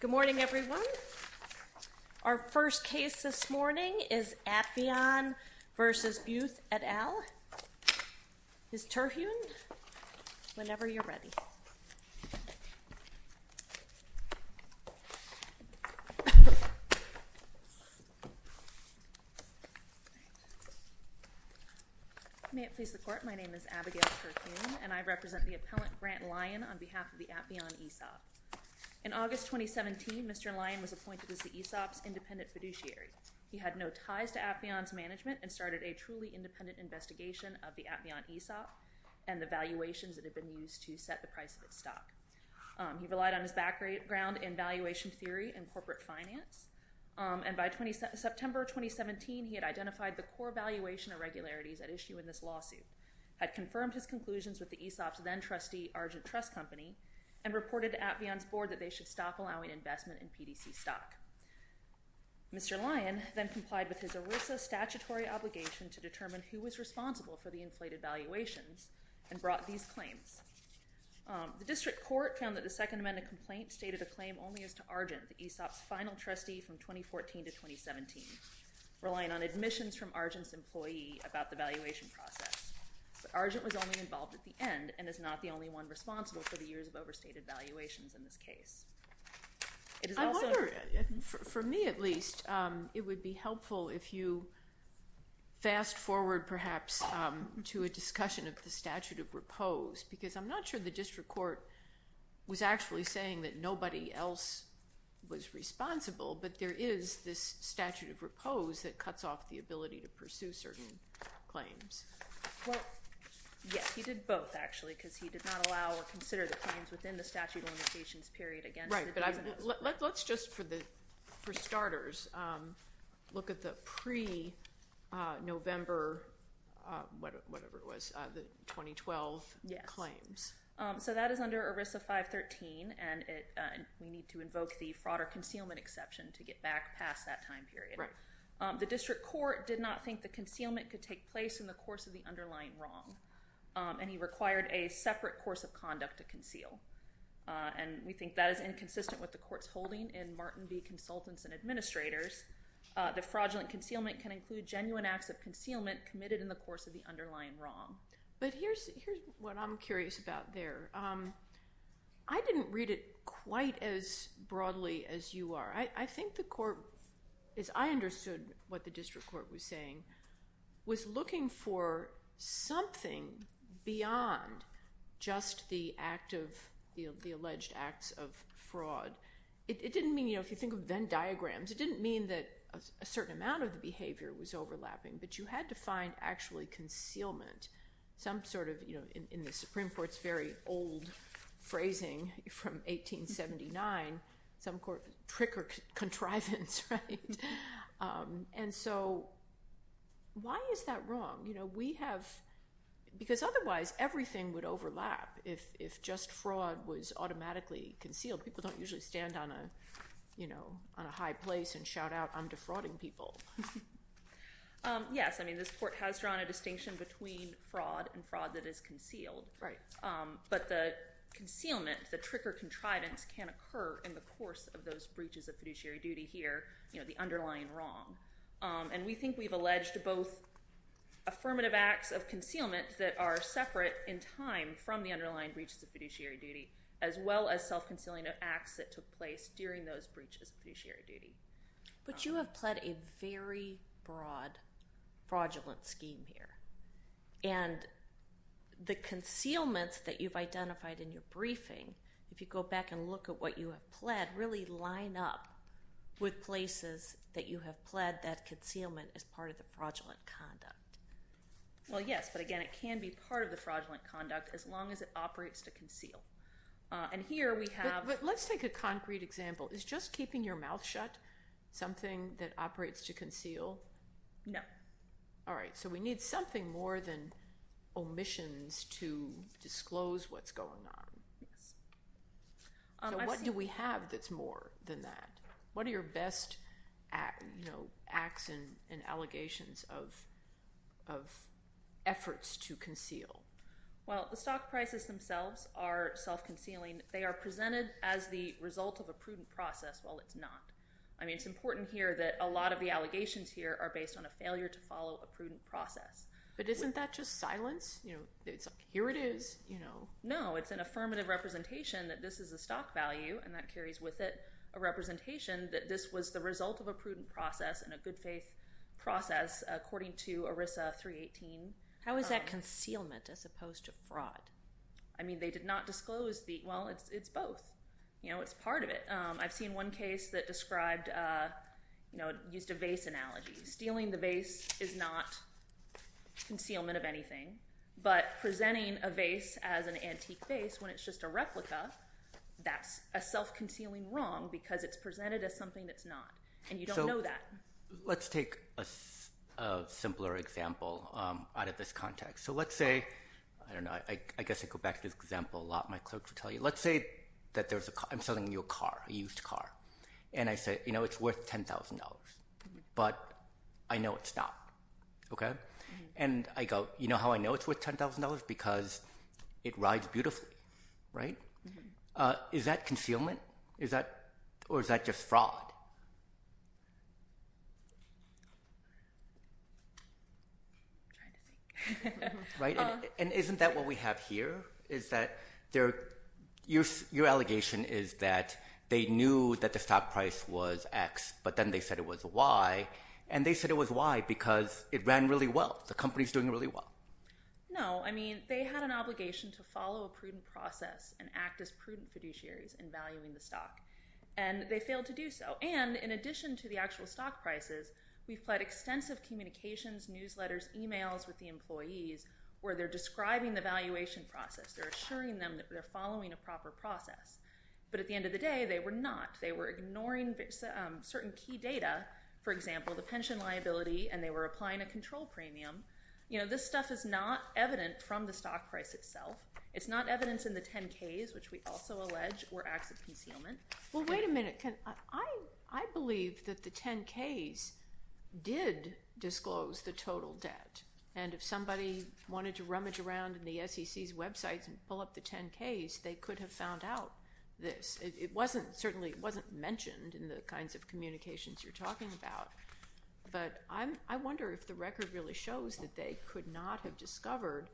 Good morning everyone. Our first case this morning is Atheon v. Buth et al. Ms. Terhune, whenever you're ready. May it please the court, my name is Abigail Terhune and I represent the appellant Grant Lyon on behalf of the Atheon ESOP. In August 2017, Mr. Lyon was appointed as the ESOP's independent fiduciary. He had no ties to Atheon's management and started a truly independent investigation of the Atheon ESOP and the valuations that had been used to set the price of its stock. He relied on his background in valuation theory and corporate finance. And by September 2017, he had identified the core valuation irregularities at issue in this lawsuit, had confirmed his conclusions with the ESOP's then-trustee Argent Trust Company, and reported to Atheon for that they should stop allowing investment in PDC stock. Mr. Lyon then complied with his ERISA statutory obligation to determine who was responsible for the inflated valuation and brought these claims. The district court found that the Second Amendment complaint stated a claim only as to Argent, the ESOP's final trustee from 2014 to 2017, relying on admissions from Argent's employee about the valuation process. But Argent was only involved at the end and is not the only one responsible for the years of overstated valuations in this case. I wonder, for me at least, it would be helpful if you fast forward perhaps to a discussion of the statute of repose, because I'm not sure the district court was actually saying that nobody else was responsible, but there is this statute of repose that cuts off the ability to pursue certain claims. Yes, he did both, actually, because he did not allow or consider the claims within the statute of limitations period again. Right, but let's just, for starters, look at the pre-November 2012 claims. So that is under ERISA 513, and we need to invoke the fraud or concealment exception to get back past that time period. Right. The district court did not think the concealment could take place in the course of the underlying wrong, and he required a separate course of conduct to conceal, and we think that is inconsistent with the court's holding in Martin V. Consultants and Administrators. The fraudulent concealment can include genuine acts of concealment committed in the course of the underlying wrong. But here's what I'm curious about there. I didn't read it quite as broadly as you are. I think the court, as I understood what the district court was saying, was looking for something beyond just the alleged acts of fraud. It didn't mean, if you think of Venn diagrams, it didn't mean that a certain amount of the behavior was overlapping, but you had to find actually concealment, some sort of, in the And so, why is that wrong? Because otherwise, everything would overlap if just fraud was automatically concealed. People don't usually stand on a high place and shout out, I'm defrauding people. Yes, I mean, this court has drawn a distinction between fraud and fraud that is concealed. But the concealment, the trick or contrivance, can occur in the course of those breaches of fiduciary duty here, the underlying wrong. And we think we've alleged both affirmative acts of concealment that are separate in time from the underlying breaches of fiduciary duty, as well as self-concealment acts that took place during those breaches of fiduciary duty. But you have pled a very broad fraudulent scheme here. And the concealments that you've identified in your briefing, if you go back and look at what you have pled, really line up with places that you have pled that concealment as part of the fraudulent conduct. Well, yes, but again, it can be part of the fraudulent conduct as long as it operates to conceal. Let's take a concrete example. Is just keeping your mouth shut something that operates to conceal? No. All right, so we need something more than omissions to disclose what's going on. What do we have that's more than that? Well, the stock prices themselves are self-concealing. They are presented as the result of a prudent process, while it's not. I mean, it's important here that a lot of the allegations here are based on a failure to follow a prudent process. But isn't that just violence? Here it is. No, it's an affirmative representation that this is a stock value, and that carries with it a representation that this was the result of a prudent process and a good faith process, according to ERISA 318. How is that concealment as opposed to fraud? I mean, they did not disclose the – well, it's both. It's part of it. I've seen one case that described – used a vase analogy. Stealing the vase is not concealment of anything, but presenting a vase as an antique vase when it's just a replica, that's a self-concealing wrong because it's presented as something that's not, and you don't know that. Let's take a simpler example out of this context. So let's say – I don't know. I guess I go back to this example a lot. My clerks will tell you. Let's say that there's a – I'm selling you a car, a used car. And I say, you know, it's worth $10,000, but I know it's not, okay? And I go, you know how I know it's worth $10,000? Because it rides beautifully, right? Is that concealment? Or is that just fraud? I'm trying to think. Right? And isn't that what we have here, is that there – your allegation is that they knew that the stock price was X, but then they said it was Y, and they said it was Y because it ran really well. The company's doing really well. No. I mean, they had an obligation to follow a prudent process and act as prudent fiduciaries in valuing the stock. And they failed to do so. And in addition to the actual stock prices, we've had extensive communications, newsletters, emails with the employees where they're describing the valuation process. They're assuring them that they're following a proper process. But at the end of the day, they were not. They were ignoring certain key data, for example, the pension liability, and they were applying a control premium. You know, this stuff is not evident from the stock price itself. It's not evidence in the 10-Ks, which we also allege were active concealment. Well, wait a minute, because I believe that the 10-Ks did disclose the total debt. And if somebody wanted to rummage around in the SEC's website and pull up the 10-Ks, they could have found out this. It wasn't – certainly, it wasn't mentioned in the kinds of communications you're talking about. But I wonder if the record really shows that they could not have discovered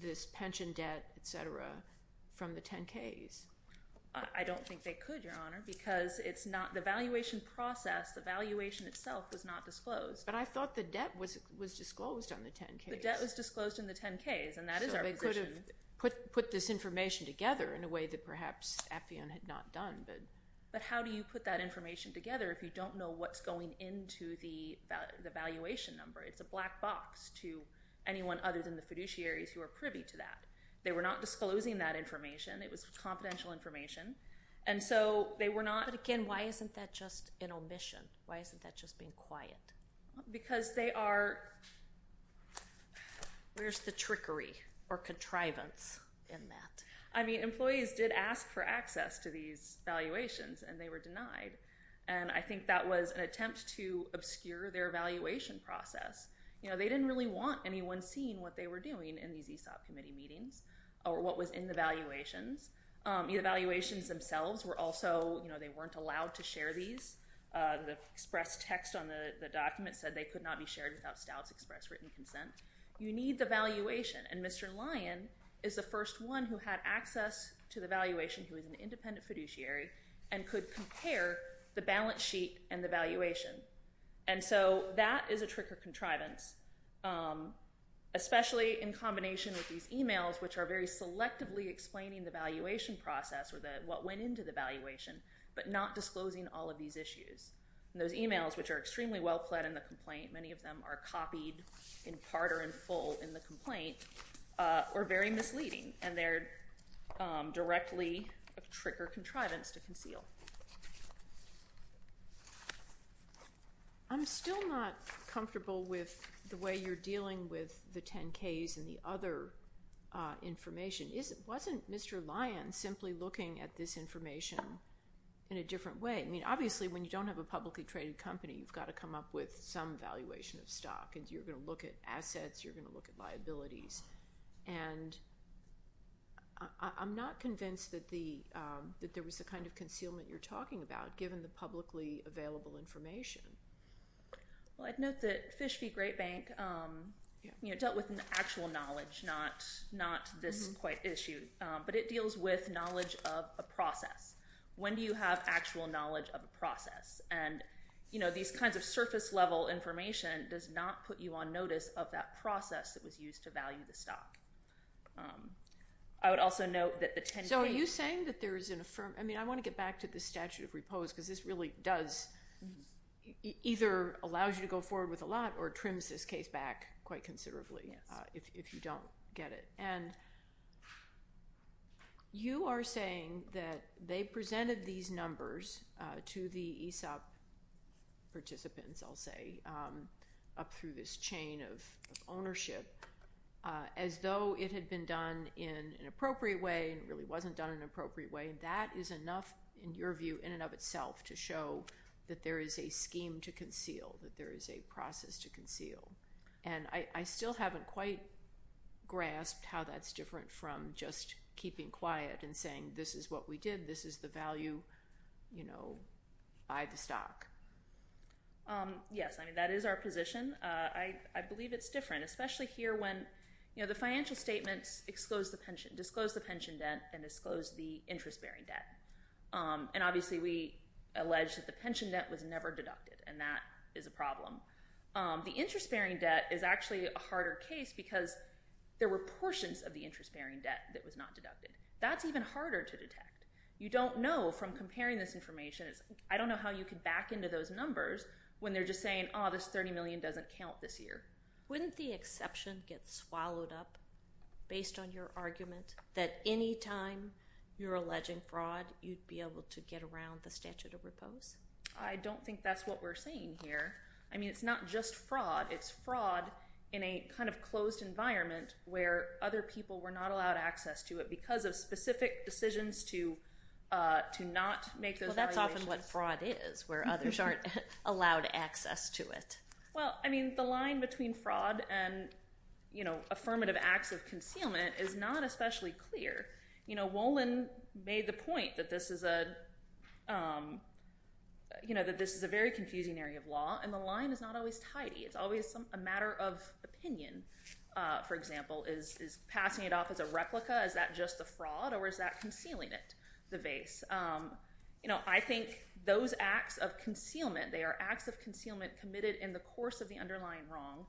this pension debt, et cetera, from the 10-Ks. I don't think they could, Your Honor, because it's not – the valuation process, the valuation itself was not disclosed. But I thought the debt was disclosed on the 10-Ks. The debt was disclosed in the 10-Ks, and that is our question. So they could have put this information together in a way that perhaps Appian had not done. But how do you put that information together if you don't know what's going into the valuation number? It's a black box to anyone other than the fiduciaries who are privy to that. They were not disclosing that information. It was confidential information. And so they were not – But again, why isn't that just an omission? Why isn't that just being quiet? Because they are – where's the trickery or contrivance in that? I mean, employees did ask for access to these valuations, and they were denied. And I think that was an attempt to obscure their valuation process. They didn't really want anyone seeing what they were doing in these ESOP committee meetings or what was in the valuations. The valuations themselves were also – they weren't allowed to share these. The express text on the document said they could not be shared without status express written consent. You need the valuation. And Mr. Lyon is the first one who had access to the valuation, who is an independent fiduciary, and could compare the balance sheet and the valuation. And so that is a trick or contrivance, especially in combination with these emails, which are very selectively explaining the valuation process or what went into the valuation, but not disclosing all of these issues. Those emails, which are extremely well-plaid in the complaint – many of them are copied in part or in full in the complaint – are very misleading, and they're directly a trick or contrivance to conceal. I'm still not comfortable with the way you're dealing with the 10-Ks and the other information. Wasn't Mr. Lyon simply looking at this information in a different way? I mean, obviously, when you don't have a publicly traded company, you've got to come up with some valuation of stock, and you're going to look at assets, you're going to look at liabilities. And I'm not convinced that there was the kind of concealment you're talking about, given the publicly available information. Well, I'd note that Fish v. Great Bank dealt with actual knowledge, not this complaint issue, but it deals with knowledge of a process. When do you have actual knowledge of a process? And these kinds of surface-level information does not put you on notice of that process that was used to value the stock. I would also note that the 10-Ks – So are you saying that there is – I mean, I want to get back to the statute of repose, because this really does – either allows you to go forward with a lot or trims this case back quite considerably, if you don't get it. And you are saying that they presented these numbers to the ESOP participants, I'll say, up through this chain of ownership, as though it had been done in an appropriate way and really wasn't done in an appropriate way. That is enough, in your view, in and of itself, to show that there is a scheme to conceal, that there is a process to conceal. And I still haven't quite grasped how that's different from just keeping quiet and saying, this is what we did, this is the value, you know, by the stock. Yes, I mean, that is our position. I believe it's different, especially here when, you know, the financial statements disclose the pension debt and disclose the interest-bearing debt. And obviously, we allege that the pension debt was never deducted, and that is a problem. The interest-bearing debt is actually a harder case because there were portions of the interest-bearing debt that was not deducted. That's even harder to detect. You don't know from comparing this information, I don't know how you can back into those numbers when they're just saying, oh, this $30 million doesn't count this year. Wouldn't the exception get swallowed up based on your argument that any time you're alleging fraud, you'd be able to get around the statute of repose? I don't think that's what we're saying here. I mean, it's not just fraud, it's fraud in a kind of closed environment where other people were not allowed access to it because of specific decisions to not make this valuation. Well, that's often what fraud is, where others aren't allowed access to it. Well, I mean, the line between fraud and, you know, affirmative acts of concealment is not especially clear. You know, Wolin made the point that this is a, you know, that this is a very confusing area of law, and the line is not always tidy. It's always a matter of opinion, for example. Is passing it off as a replica, is that just a fraud, or is that concealing it, the base? You know, I think those acts of concealment, they are acts of concealment committed in the course of the underlying wrong,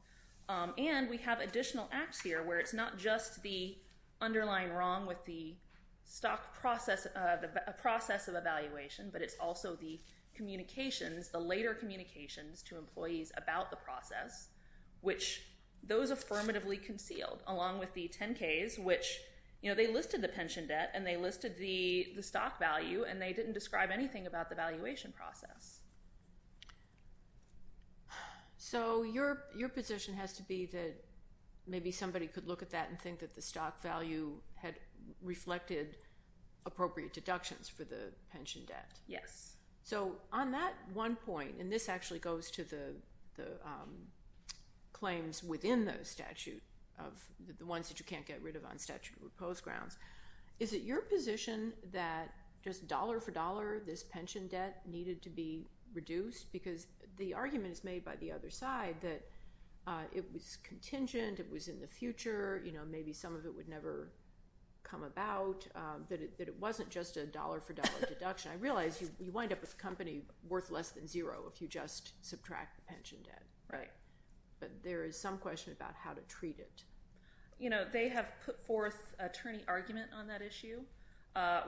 and we have additional acts here where it's not just the underlying wrong with the stock process of evaluation, but it's also the communications, the later communications to employees about the process, which those affirmatively concealed, along with the 10-Ks, which, you know, they listed the pension debt, and they listed the stock value, and they didn't describe anything about the valuation process. So your position has to be that maybe somebody could look at that and think that the stock value had reflected appropriate deductions for the pension debt. Yes. So on that one point, and this actually goes to the claims within the statute, the ones that you can't get rid of on statute or post grounds, is it your position that just dollar for dollar this pension debt needed to be reduced? Because the argument is made by the other side that it was contingent, it was in the future, you know, maybe some of it would never come about, but it wasn't just a dollar for dollar deduction. I realize you wind up with a company worth less than zero if you just subtract the pension debt. Right. But there is some question about how to treat it. You know, they have put forth a turning argument on that issue.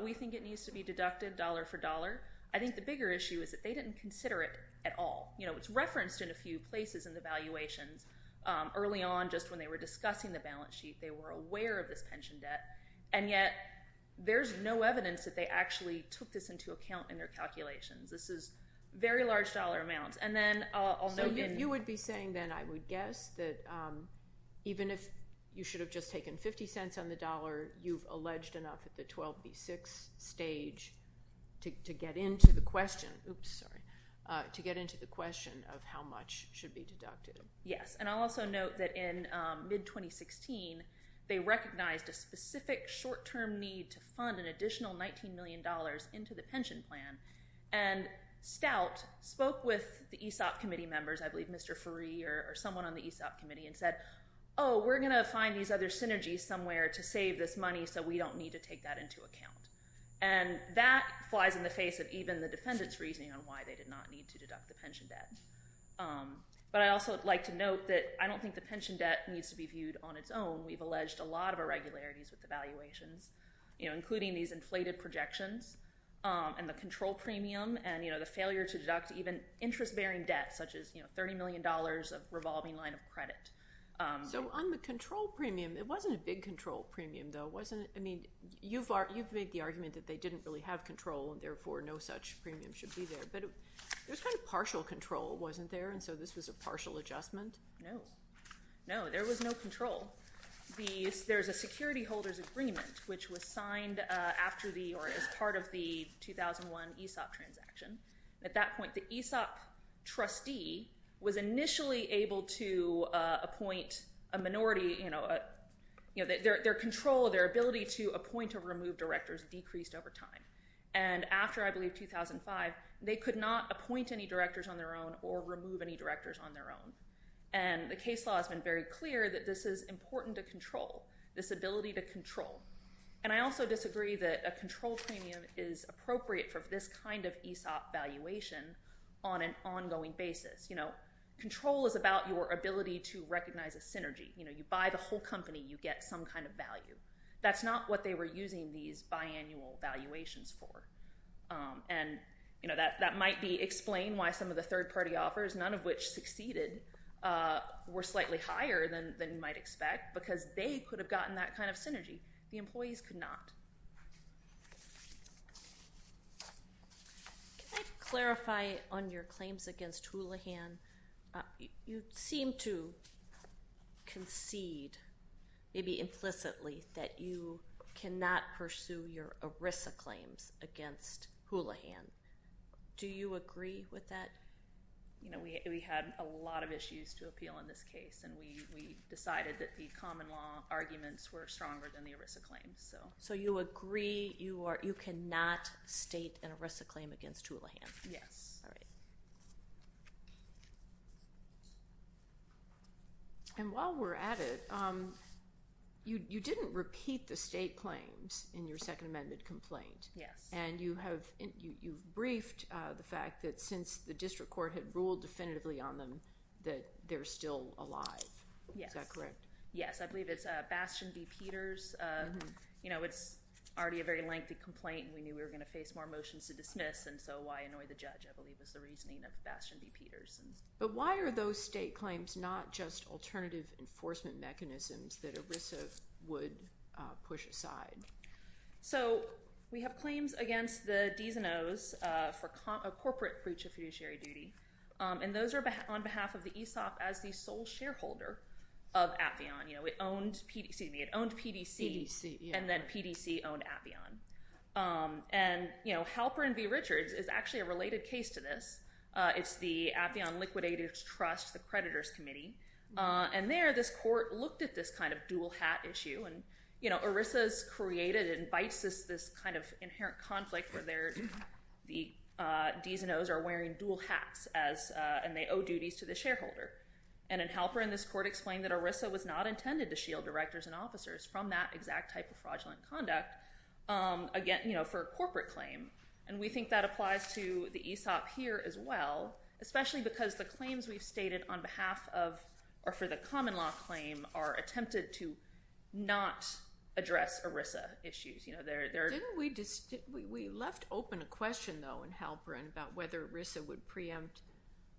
We think it needs to be deducted dollar for dollar. I think the bigger issue is that they didn't consider it at all. You know, it's referenced in a few places in the valuation. Early on, just when they were discussing the balance sheet, they were aware of the pension debt, and yet there's no evidence that they actually took this into account in their calculations. This is very large dollar amounts. You would be saying then, I would guess, that even if you should have just taken 50 cents on the dollar, you've alleged enough at the 12B6 stage to get into the question of how much should be deducted. Yes. And I'll also note that in mid-2016, they recognized a specific short-term need to fund an additional $19 million into the pension plan. And Stout spoke with the ESOP committee members, I believe Mr. Faree or someone on the ESOP committee, and said, oh, we're going to find these other synergies somewhere to save this money so we don't need to take that into account. And that flies in the face of even the defendant's reasoning on why they did not need to deduct the pension debt. But I'd also like to note that I don't think the pension debt needs to be viewed on its own. We've alleged a lot of irregularities with the valuations, including these inflated projections and the control premium and the failure to deduct even interest-bearing debts, such as $30 million of revolving line of credit. So on the control premium, it wasn't a big control premium, though. I mean, you've made the argument that they didn't really have control, and therefore no such premium should be there. But there was kind of partial control, wasn't there? And so this is a partial adjustment? No. No, there was no control. There's a security holders' agreement, which was signed after the, or as part of the 2001 ESOP transaction. At that point, the ESOP trustee was initially able to appoint a minority, you know, their control, their ability to appoint or remove directors decreased over time. And after, I believe, 2005, they could not appoint any directors on their own or remove any directors on their own. And the case law has been very clear that this is important to control, this ability to control. And I also disagree that a control premium is appropriate for this kind of ESOP valuation on an ongoing basis. You know, control is about your ability to recognize a synergy. You know, you buy the whole company, you get some kind of value. That's not what they were using these biannual valuations for. And, you know, that might be explained why some of the third-party offers, none of which succeeded, were slightly higher than you might expect, because they could have gotten that kind of synergy. The employees could not. Can I clarify on your claims against Houlihan? You seem to concede, maybe implicitly, that you cannot pursue your ERISA claims against Houlihan. Do you agree with that? You know, we had a lot of issues to appeal on this case, and we decided that the common law arguments were stronger than the ERISA claims. So you agree you cannot state an ERISA claim against Houlihan? Yes. All right. And while we're at it, you didn't repeat the state claims in your second amended complaint. Yes. And you've briefed the fact that since the district court had ruled definitively on them that they're still alive. Is that correct? Yes. I believe it's Bastion v. Peters. You know, it's already a very lengthy complaint. We knew we were going to face more motions to dismiss, and so why annoy the judge, I believe, is the reasoning of Bastion v. Peters. But why are those state claims not just alternative enforcement mechanisms that ERISA would push aside? So we have claims against the DMOs for corporate breach of fiduciary duty, and those are on behalf of the ESOP as the sole shareholder of Appian. It owned PDC, and then PDC owned Appian. And Halpern v. Richards is actually a related case to this. It's the Appian Liquidators Trust, the creditors committee. And there, the court looked at this kind of dual hat issue. And ERISA's created and bites this kind of inherent conflict where the DMOs are wearing dual hats, and they owe duties to the shareholder. And in Halpern, this court explained that ERISA was not intended to shield directors and officers from that exact type of fraudulent conduct, again, for a corporate claim. And we think that applies to the ESOP here as well, especially because the claims we stated on behalf of, or for the common law claim, are attempted to not address ERISA issues. We left open a question, though, in Halpern about whether ERISA would preempt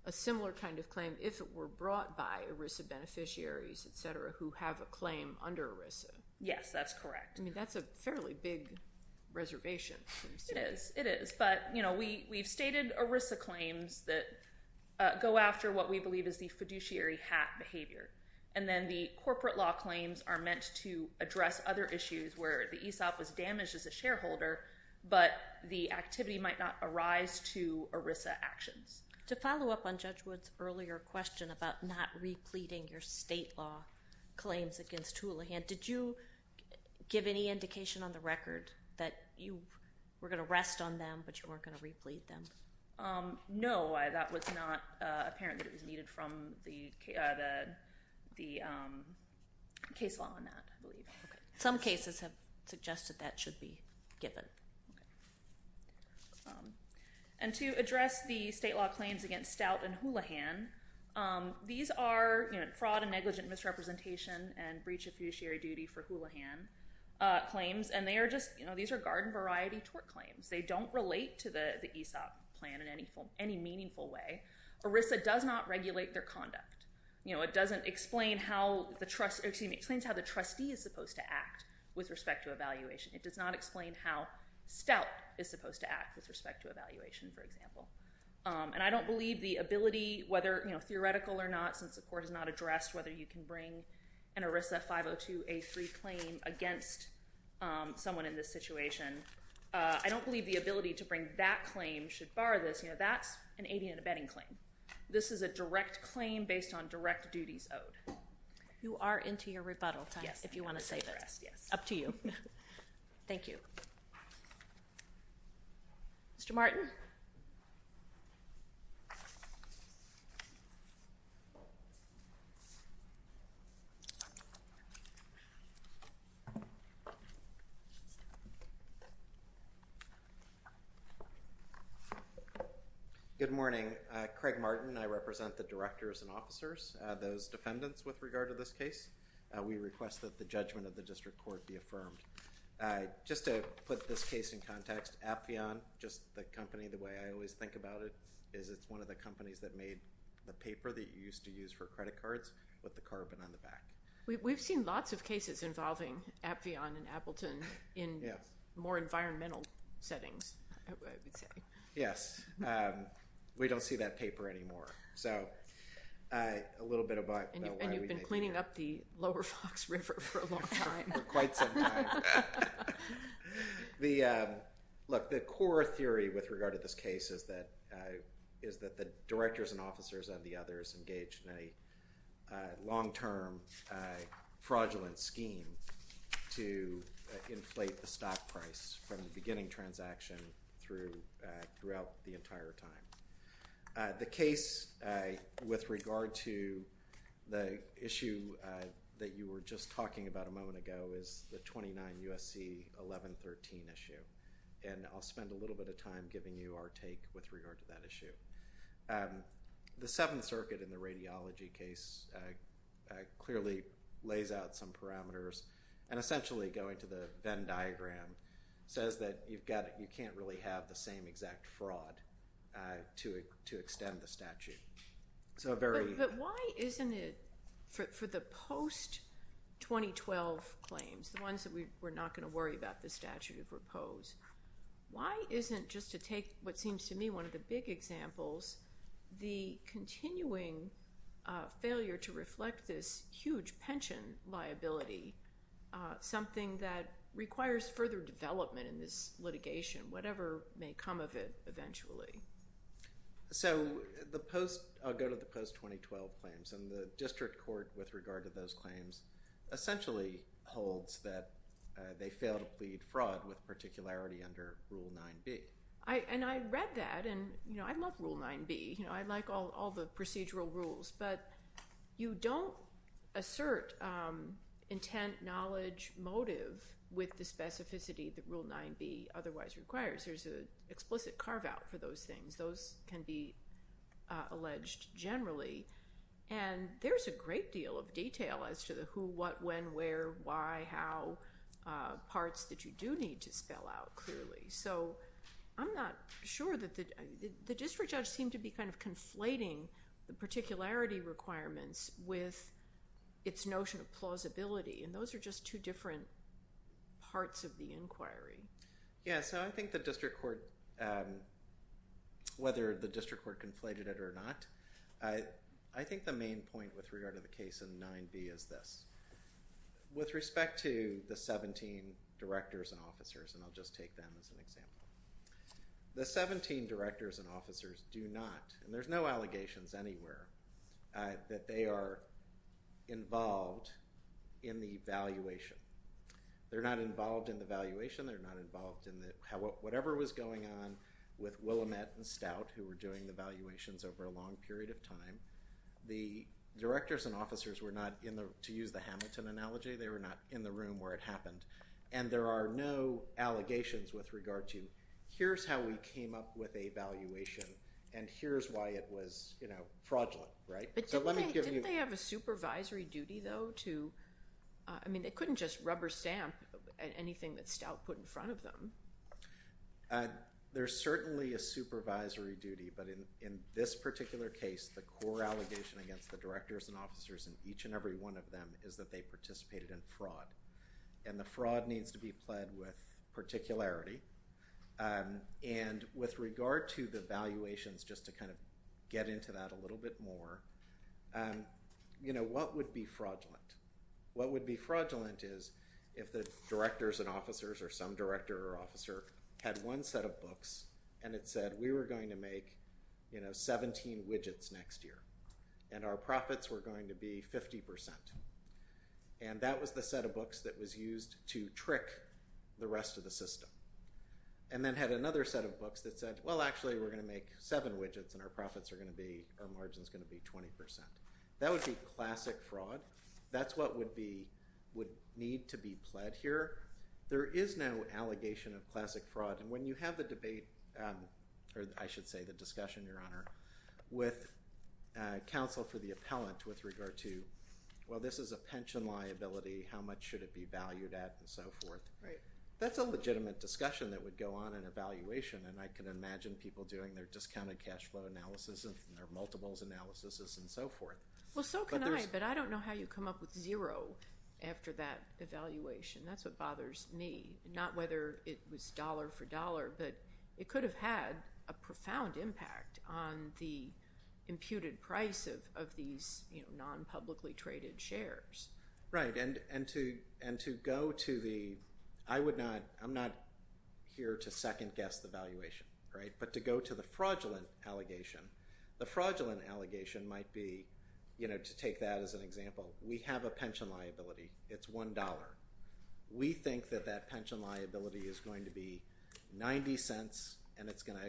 a similar kind of claim if it were brought by ERISA beneficiaries, et cetera, who have a claim under ERISA. Yes, that's correct. I mean, that's a fairly big reservation. It is. It is. But we've stated ERISA claims that go after what we believe is the fiduciary hat behavior. And then the corporate law claims are meant to address other issues where the ESOP was damaged as a shareholder, but the activity might not arise to ERISA actions. To follow up on Judge Wood's earlier question about not repleting your state law claims against Houlihan, did you give any indication on the record that you were going to rest on them, but you weren't going to replete them? No, that was not apparent. It was needed from the case law on that, I believe. Some cases have suggested that should be given. And to address the state law claims against Stout and Houlihan, these are fraud and negligent misrepresentation and breaches fiduciary duty for Houlihan claims, and they are just, you know, these are garden variety tort claims. They don't relate to the ESOP plan in any meaningful way. ERISA does not regulate their conduct. You know, it doesn't explain how the trustee is supposed to act with respect to evaluation. It does not explain how Stout is supposed to act with respect to evaluation, for example. And I don't believe the ability, whether, you know, theoretical or not, since the court has not addressed whether you can bring an ERISA 502A3 claim against someone in this case, I don't believe the ability to bring that claim should borrow this, you know, that's an 80 and abetting claim. This is a direct claim based on direct duties owed. You are into your rebuttal, if you want to say that. Yes. Up to you. Thank you. Mr. Martin? Good morning. Craig Martin. I represent the directors and officers, those defendants with regard to this case. We request that the judgment of the district court be affirmed. Just to put this case in context, Appian, just the company, the way I always think about it is it's one of the companies that made a paper that you used to use for credit cards with the carbon in the back. We've seen lots of cases involving Appian and Appleton in more environmental settings. Yes. We don't see that paper anymore. So, a little bit of a... And you've been cleaning up the Lower Fox River for a long time. Quite some time. Look, the core theory with regard to this case is that the directors and officers and the others engaged in a long-term fraudulent scheme to inflate the stock price from the beginning transaction throughout the entire time. The case with regard to the issue that you were just talking about a moment ago is the 29 USC 1113 issue. And I'll spend a little bit of time giving you our take with regard to that issue. The Seventh Circuit in the radiology case clearly lays out some parameters and essentially going to the Venn diagram says that you can't really have the same exact fraud to extend the statute. So, a very... But why isn't it, for the post-2012 claims, the ones that we're not going to worry about the statute as proposed, why isn't just to take what seems to me one of the big examples the continuing failure to reflect this huge pension liability, something that requires further development in this litigation, whatever may come of it eventually? So, the post... I'll go to the post-2012 claims. And the district court with regard to those claims essentially holds that they failed to plead fraud with particularity under Rule 9b. And I read that and I love Rule 9b. I like all the procedural rules. But you don't assert intent, knowledge, motive with the specificity that Rule 9b otherwise requires. There's an explicit carve-out for those things. Those can be alleged generally. And there's a great deal of detail as to the who, what, when, where, why, how, parts that you do need to spell out clearly. So, I'm not sure that the district does seem to be kind of conflating the particularity requirements with its notion of plausibility. And those are just two different parts of the inquiry. Yeah. So, I think the district court, whether the district court conflated it or not, I think the main point with regard to the case of 9b is this. With respect to the 17 directors and officers, and I'll just take them as an example. The 17 directors and officers do not, and there's no allegations anywhere, that they are involved in the valuation. They're not involved in the valuation. They're not involved in whatever was going on with Willamette and Stout who were doing the valuations over a long period of time. The directors and officers were not, to use the Hamilton analogy, they were not in the room where it happened. And there are no allegations with regard to, here's how we came up with a valuation and here's why it was fraudulent. But didn't they have a supervisory duty though to, I mean they couldn't just rubber stamp anything that Stout put in front of them. There's certainly a supervisory duty, but in this particular case, the core allegation against the directors and officers in each and every one of them is that they participated in fraud. And the fraud needs to be pled with particularity. And with regard to the valuations, just to kind of get into that a little bit more, you know, what would be fraudulent? What would be fraudulent is if the directors and officers or some director or officer had one set of books and it said we were going to make, you know, 17 widgets next year. And our profits were going to be 50%. And that was the set of books that was used to trick the rest of the system. And then had another set of books that said, well actually we're going to make seven widgets and our profits are going to be, our margin is going to be 20%. That would be classic fraud. That's what would need to be pled here. There is no allegation of classic fraud. And when you have the debate, or I should say the discussion, Your Honor, with counsel to the appellant with regard to, well this is a pension liability, how much should it be valued at and so forth, that's a legitimate discussion that would go on in evaluation and I can imagine people doing their discounted cash flow analysis and their multiples analysis and so forth. Well so can I, but I don't know how you come up with zero after that evaluation. That's what bothers me. Not whether it was dollar for dollar, but it could have had a profound impact on the imputed price of these non-publicly traded shares. Right. And to go to the, I would not, I'm not here to second guess the valuation, right, but to go to the fraudulent allegation, the fraudulent allegation might be, you know, to take that as an example, we have a pension liability. It's $1. We think that that pension liability is going to be 90 cents and it's going to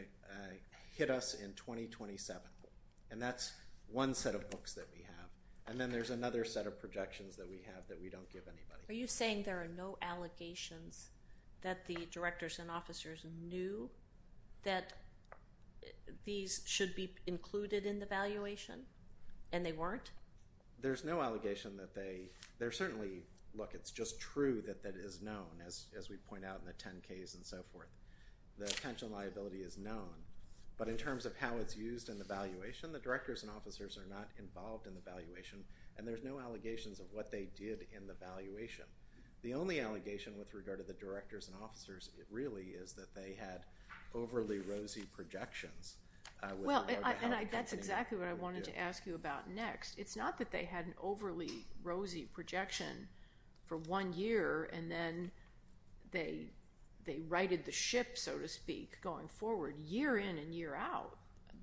hit us in 2027. And that's one set of books that we have. And then there's another set of projections that we have that we don't give anybody. Are you saying there are no allegations that the directors and officers knew that these should be included in the valuation and they weren't? There's no allegation that they, there certainly, look, it's just true that that is known as we point out in the 10-Ks and so forth. The pension liability is known. But in terms of how it's used in the valuation, the directors and officers are not involved in the valuation. And there's no allegations of what they did in the valuation. The only allegation with regard to the directors and officers really is that they had overly rosy projections. Well, that's exactly what I wanted to ask you about next. It's not that they had an overly rosy projection for one year and then they righted the shift, so to speak, going forward. But year in and year out,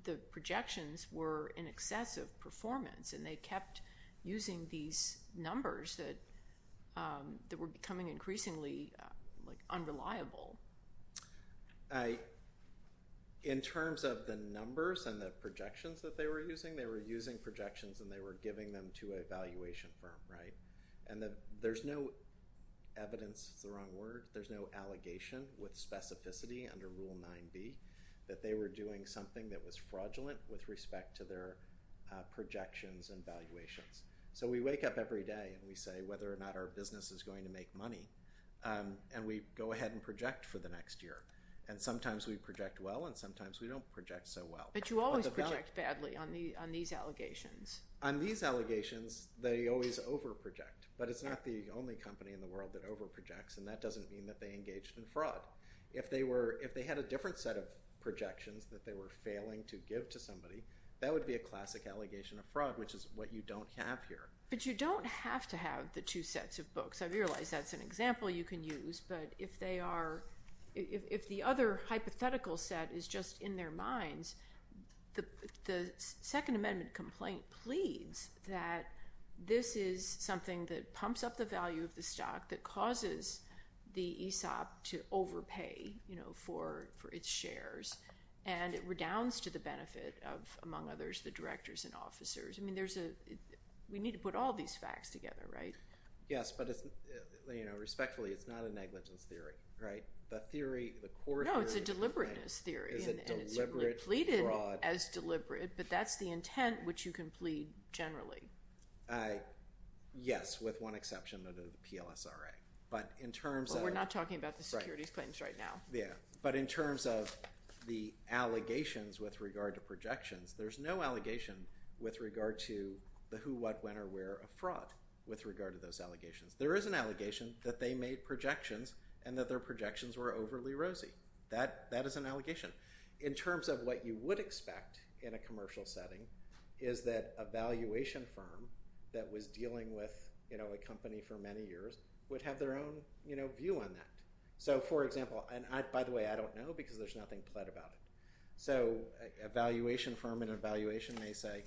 the projections were in excess of performance and they kept using these numbers that were becoming increasingly unreliable. In terms of the numbers and the projections that they were using, they were using projections and they were giving them to a valuation firm. And there's no evidence, the wrong word, there's no allegation with specificity under Rule 9B that they were doing something that was fraudulent with respect to their projections and valuations. So we wake up every day and we say whether or not our business is going to make money and we go ahead and project for the next year. And sometimes we project well and sometimes we don't project so well. But you always project badly on these allegations. On these allegations, they always over-project. But it's not the only company in the world that over-projects and that doesn't mean that they engaged in fraud. If they had a different set of projections that they were failing to give to somebody, that would be a classic allegation of fraud, which is what you don't have here. But you don't have to have the two sets of books. I realize that's an example you can use, but if the other hypothetical set is just in their minds, the Second Amendment complaint pleads that this is something that pumps up the value of the stock that causes the ESOP to overpay for its shares and it redounds to the benefit of, among others, the directors and officers. We need to put all these facts together, right? Yes, but respectfully, it's not a negligence theory. No, it's a deliberateness theory and it's pleaded as deliberate, but that's the intent which you can plead generally. Yes, with one exception under the PLSRA. But in terms of... We're not talking about the securities claims right now. Yeah, but in terms of the allegations with regard to projections, there's no allegation with regard to the who, what, when, or where of fraud with regard to those allegations. There is an allegation that they made projections and that their projections were overly rosy. That is an allegation. In terms of what you would expect in a commercial setting is that a valuation firm that was dealing with a company for many years would have their own view on that. So, for example, and by the way, I don't know because there's nothing pled about it. So, a valuation firm in an evaluation may say,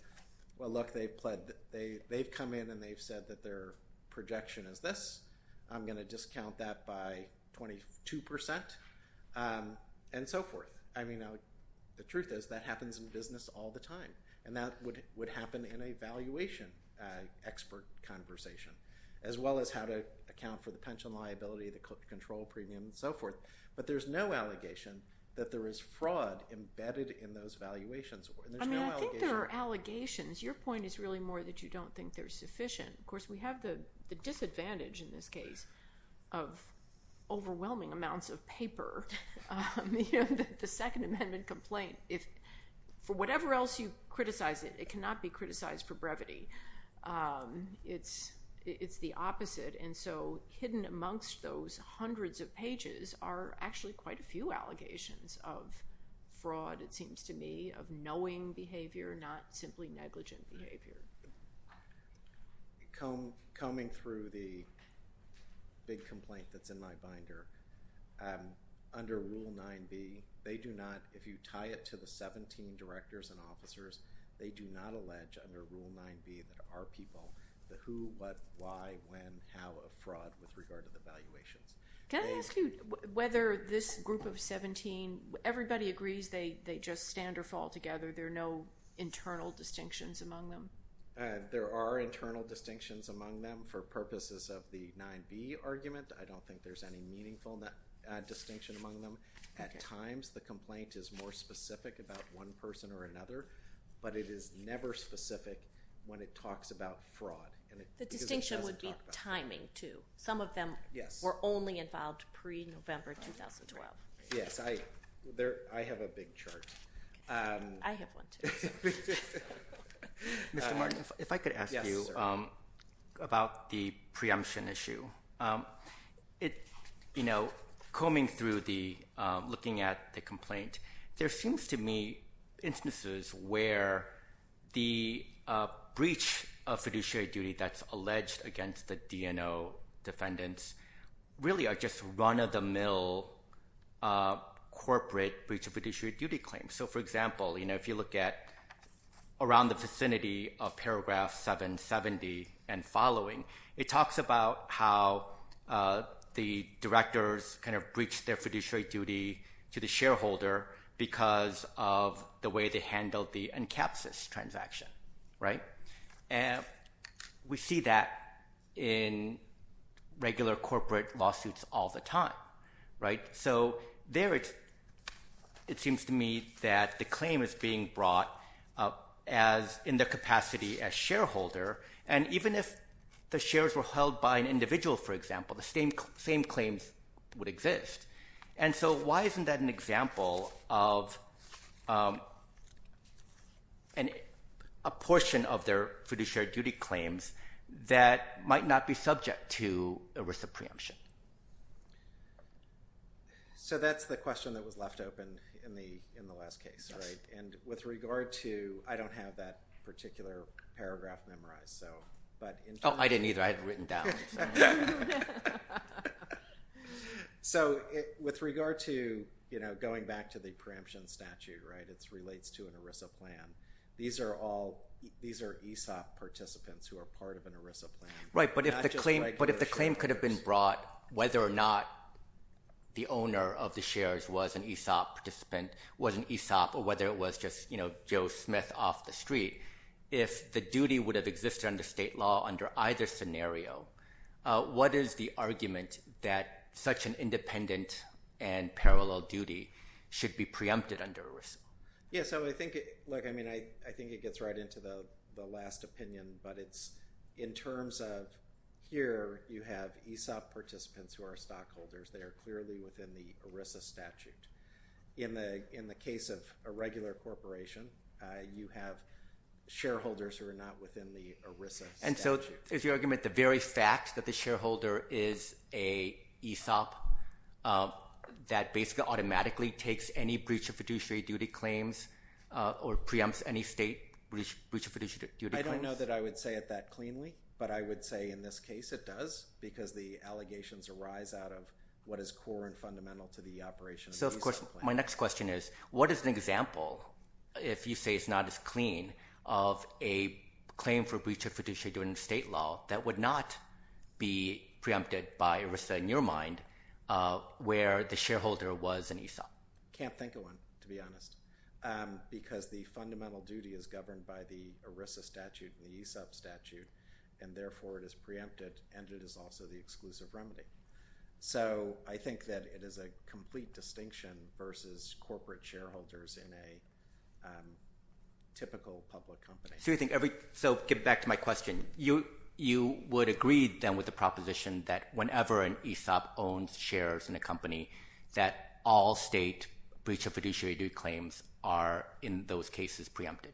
well, look, they've come in and they've said that their projection is this. I'm going to discount that by 22% and so forth. The truth is that happens in business all the time and that would happen in a valuation expert conversation as well as how to account for the pension liability, the control premium, and so forth. But there's no allegation that there is fraud embedded in those valuations. I think there are allegations. Your point is really more that you don't think there's sufficient. Of course, we have the disadvantage in this case of overwhelming amounts of paper that it's a Second Amendment complaint. For whatever else you criticize it, it cannot be criticized for brevity. It's the opposite. So, hidden amongst those hundreds of pages are actually quite a few allegations of fraud, it seems to me, of knowing behavior, not simply negligent behavior. Coming through the big complaint that's in my binder, under Rule 9b, if you tie it to the 17 directors and officers, they do not allege under Rule 9b that there are people that who, what, why, when, how have fraud with regard to the valuation. Can I ask you whether this group of 17, everybody agrees they just stand or fall together, there are no internal distinctions among them? There are internal distinctions among them. For purposes of the 9b argument, I don't think there's any meaningful distinction among them. At times, the complaint is more specific about one person or another, but it is never specific when it talks about fraud. The distinction would be timing, too. Some of them were only involved pre-November 2012. Yes, I have a big chart. I have one, too. Mr. Martin, if I could ask you about the preemption issue. It, you know, combing through the, looking at the complaint, there seems to me instances where the breach of fiduciary duty that's alleged against the DNO defendants really are just run-of-the-mill corporate breach of fiduciary duty claims. So, for example, you know, if you look at around the vicinity of paragraph 770 and following, it talks about how the directors kind of breached their fiduciary duty to the shareholder because of the way they handled the NCAPSIS transaction, right? We see that in regular corporate lawsuits all the time, right? So, there it seems to me that the claim is being brought up as in the capacity as shareholder, and even if the shares were held by an individual, for example, the same claims would exist. And so, why isn't that an example of a portion of their fiduciary duty claims that might not be subject to a risk of preemption? So, that's the question that was left open in the last case, right? And with regard to, I don't have that particular paragraph memorized, so. Oh, I didn't either. I had it written down. Yeah. So, with regard to, you know, going back to the preemption statute, right? It relates to an ERISA plan. These are ESOP participants who are part of an ERISA plan. Right, but if the claim could have been brought, whether or not the owner of the shares was an ESOP participant, was an ESOP, or whether it was just, you know, Joe Smith off the street, if the duty would have existed under state law under either scenario, what is the argument that such an independent and parallel duty should be preempted under ERISA? Yeah, so I think it – look, I mean, I think it gets right into the last opinion, but it's in terms of here you have ESOP participants who are stockholders. They are clearly within the ERISA statute. In the case of a regular corporation, you have shareholders who are not within the ERISA statute. And so, is your argument the very fact that the shareholder is a ESOP that basically automatically takes any breach of fiduciary duty claims or preempts any state breach of fiduciary duty claims? I don't know that I would say it that cleanly, but I would say in this case it does because the allegations arise out of what is core and fundamental to the operation. So, of course, my next question is, what is an example, if you say it's not as clean, of a claim for breach of fiduciary duty in state law that would not be preempted by ERISA in your mind where the shareholder was an ESOP? Can't think of one, to be honest, because the fundamental duty is governed by the ERISA statute and the ESOP statute, and therefore it is preempted and it is also the exclusive remedy. So, I think that it is a complete distinction versus corporate shareholders in a typical public company. So, get back to my question. You would agree then with the proposition that whenever an ESOP owns shares in a company that all state breach of fiduciary duty claims are in those cases preempted?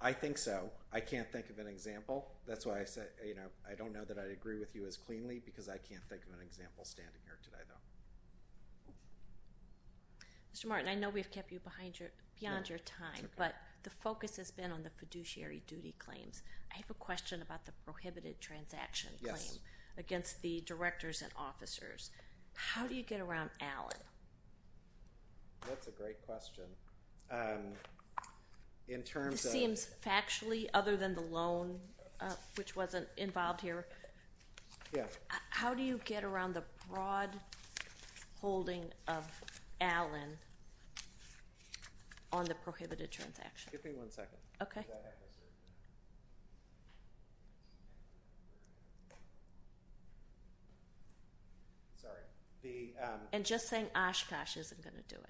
I think so. I can't think of an example. That's why I said I don't know that I agree with you as cleanly because I can't think of an example standing here today. Mr. Martin, I know we've kept you beyond your time, but the focus has been on the fiduciary duty claims. I have a question about the prohibited transaction claim against the directors and officers. How do you get around Alan? That's a great question. You're saying factually other than the loan, which wasn't involved here? Yes. How do you get around the broad holding of Alan on the prohibited transaction? Give me one second. Okay. Sorry. And just saying Oshkosh isn't going to do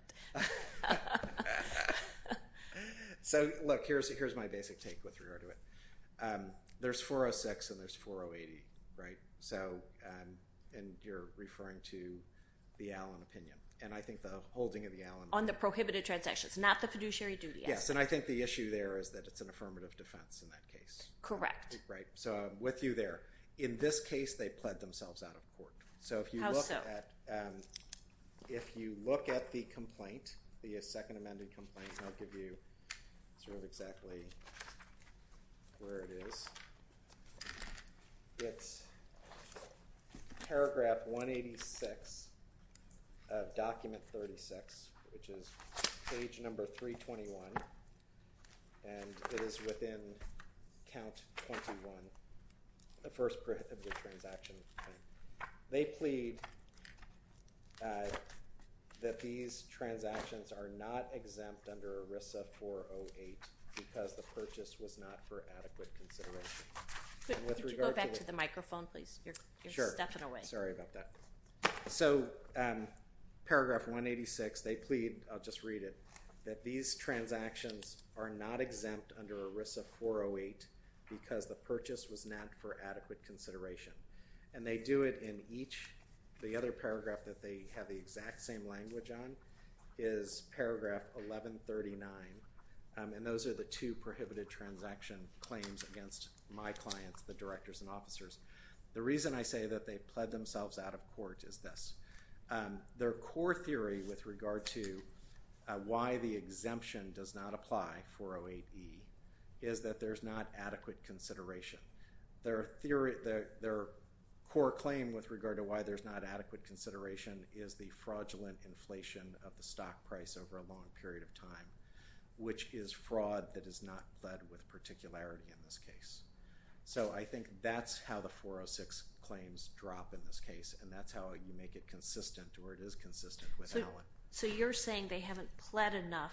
it. Look, here's my basic take with regard to it. There's 406 and there's 408. You're referring to the Alan opinion. I think the holding of the Alan… On the prohibited transaction, not the fiduciary duty. Yes. I think the issue there is that it's an affirmative defense in that case. Correct. I'm with you there. In this case, they pled themselves out of court. How so? If you look at the complaint, the second amended complaint, I'll give you sort of exactly where it is. It's paragraph 186 of document 36, which is page number 321. And it is within count 21, the first prohibited transaction. They plead that these transactions are not exempt under ERISA 408 because the purchase was not for adequate consideration. Could you go back to the microphone, please? Sure. Sorry about that. So, paragraph 186, they plead, I'll just read it, that these transactions are not exempt under ERISA 408 because the purchase was not for adequate consideration. And they do it in each, the other paragraph that they have the exact same language on is paragraph 1139. And those are the two prohibited transaction claims against my clients, the directors and officers. The reason I say that they pled themselves out of court is this. Their core theory with regard to why the exemption does not apply, 408E, is that there's not adequate consideration. Their core claim with regard to why there's not adequate consideration is the fraudulent inflation of the stock price over a long period of time, which is fraud that is not pled with particularity in this case. So, I think that's how the 406 claims drop in this case, and that's how you make it consistent, or it is consistent with that one. So, you're saying they haven't pled enough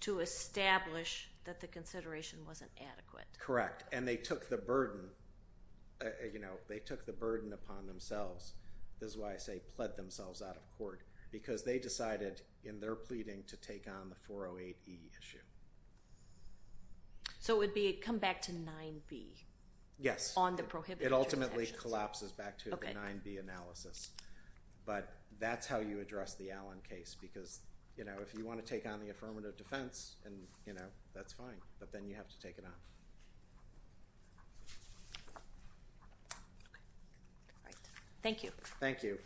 to establish that the consideration wasn't adequate. Correct, and they took the burden upon themselves. This is why I say pled themselves out of court, because they decided in their pleading to take on the 408E issue. So, it would come back to 9B on the prohibited transaction. Yes, it ultimately collapses back to a 9B analysis. But that's how you address the Allen case, because if you want to take on the affirmative defense, that's fine, but then you have to take it on. Thank you. Thank you.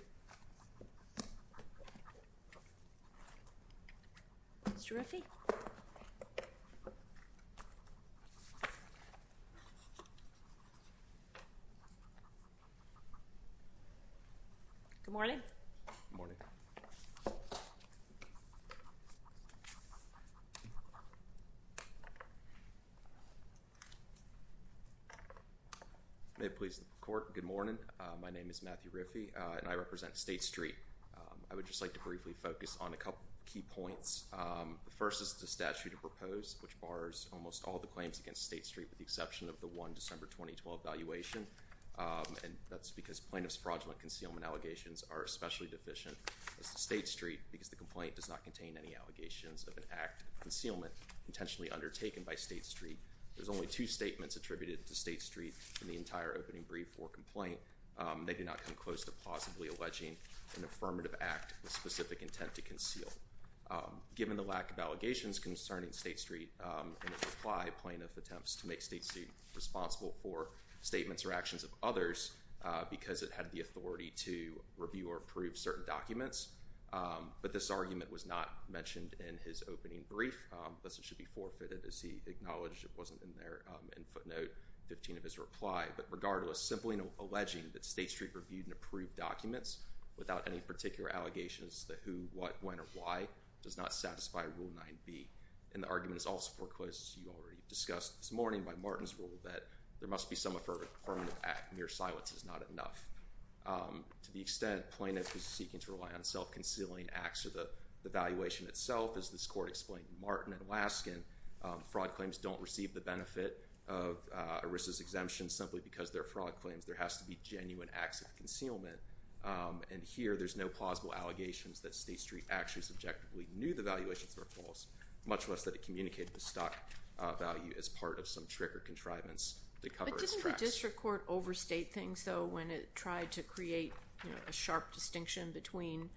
Good morning. Good morning. May it please the court, good morning. My name is Matthew Riffey, and I represent State Street. I would just like to briefly focus on a couple of key points. The first is the statute proposed, which bars almost all the claims against State Street with the exception of the one December 2012 valuation, and that's because plaintiff's fraudulent concealment allegations are especially deficient with State Street, because the complaint does not contain any allegations of an act of concealment intentionally undertaken by State Street. There's only two statements attributed to State Street in the entire opening brief or complaint. They do not come close to possibly alleging an affirmative act with specific intent to conceal. Given the lack of allegations concerning State Street and its reply, plaintiff attempts to make State Street responsible for statements or actions of others, because it had the authority to review or approve certain documents, but this argument was not mentioned in his opening brief, thus it should be forfeited as he acknowledged it wasn't in there in footnote 15 of his reply. But regardless, simply alleging that State Street reviewed and approved documents without any particular allegations to the who, what, when, or why does not satisfy Rule 9b. And the argument is also foreclosed, as you already discussed this morning by Martin's rule, that there must be some affirmative act and mere silence is not enough. To the extent plaintiff is seeking to rely on self-concealing acts of the valuation itself, as this court explained to Martin and Laskin, fraud claims don't receive the benefit of ERISA's exemption simply because they're fraud claims. There has to be genuine acts of concealment. And here there's no plausible allegations that State Street actually subjectively knew the valuation was false, much less that it communicated the stock value as part of some trick or contrivance. But didn't the district court overstate things, though, when it tried to create a sharp distinction between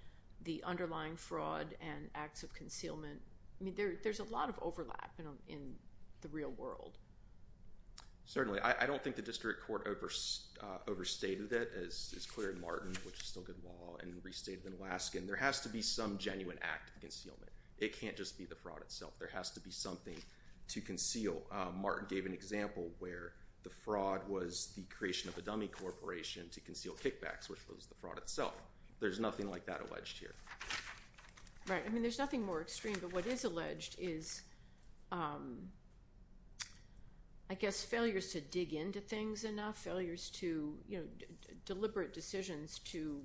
the underlying fraud and acts of concealment? I mean, there's a lot of overlap in the real world. Certainly. I don't think the district court overstated it, as is clear in Martin, which is still good law, and restated in Laskin. There has to be some genuine act of concealment. It can't just be the fraud itself. There has to be something to conceal. Martin gave an example where the fraud was the creation of a dummy corporation to conceal kickbacks, which was the fraud itself. There's nothing like that alleged here. Right. I mean, there's nothing more extreme. But what is alleged is, I guess, failures to dig into things enough, deliberate decisions to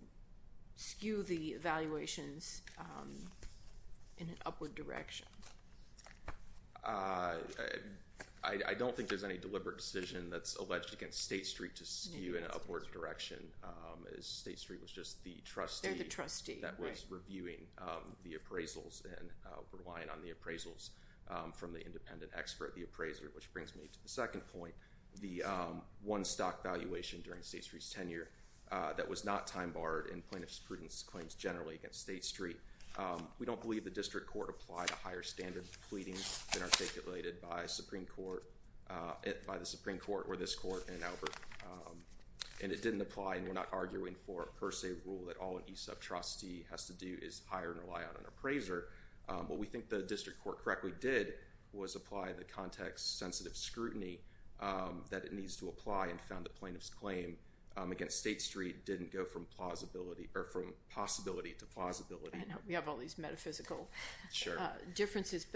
skew the evaluations in an upward direction. I don't think there's any deliberate decision that's alleged against State Street to skew in an upward direction. State Street was just the trustee that was reviewing the appraisals and relying on the appraisals from the independent expert, the appraiser. Which brings me to the second point, the one stock valuation during State Street's tenure that was not time-barred in plaintiff's students' claims generally against State Street. We don't believe the district court applied a higher standard of pleading than articulated by the Supreme Court or this court in Albert. And it didn't apply, and we're not arguing for a per se rule that all a trustee has to do is hire and rely on an appraiser. What we think the district court correctly did was apply the context-sensitive scrutiny that it needs to apply and found the plaintiff's claim against State Street didn't go from possibility to plausibility. We have all these metaphysical differences.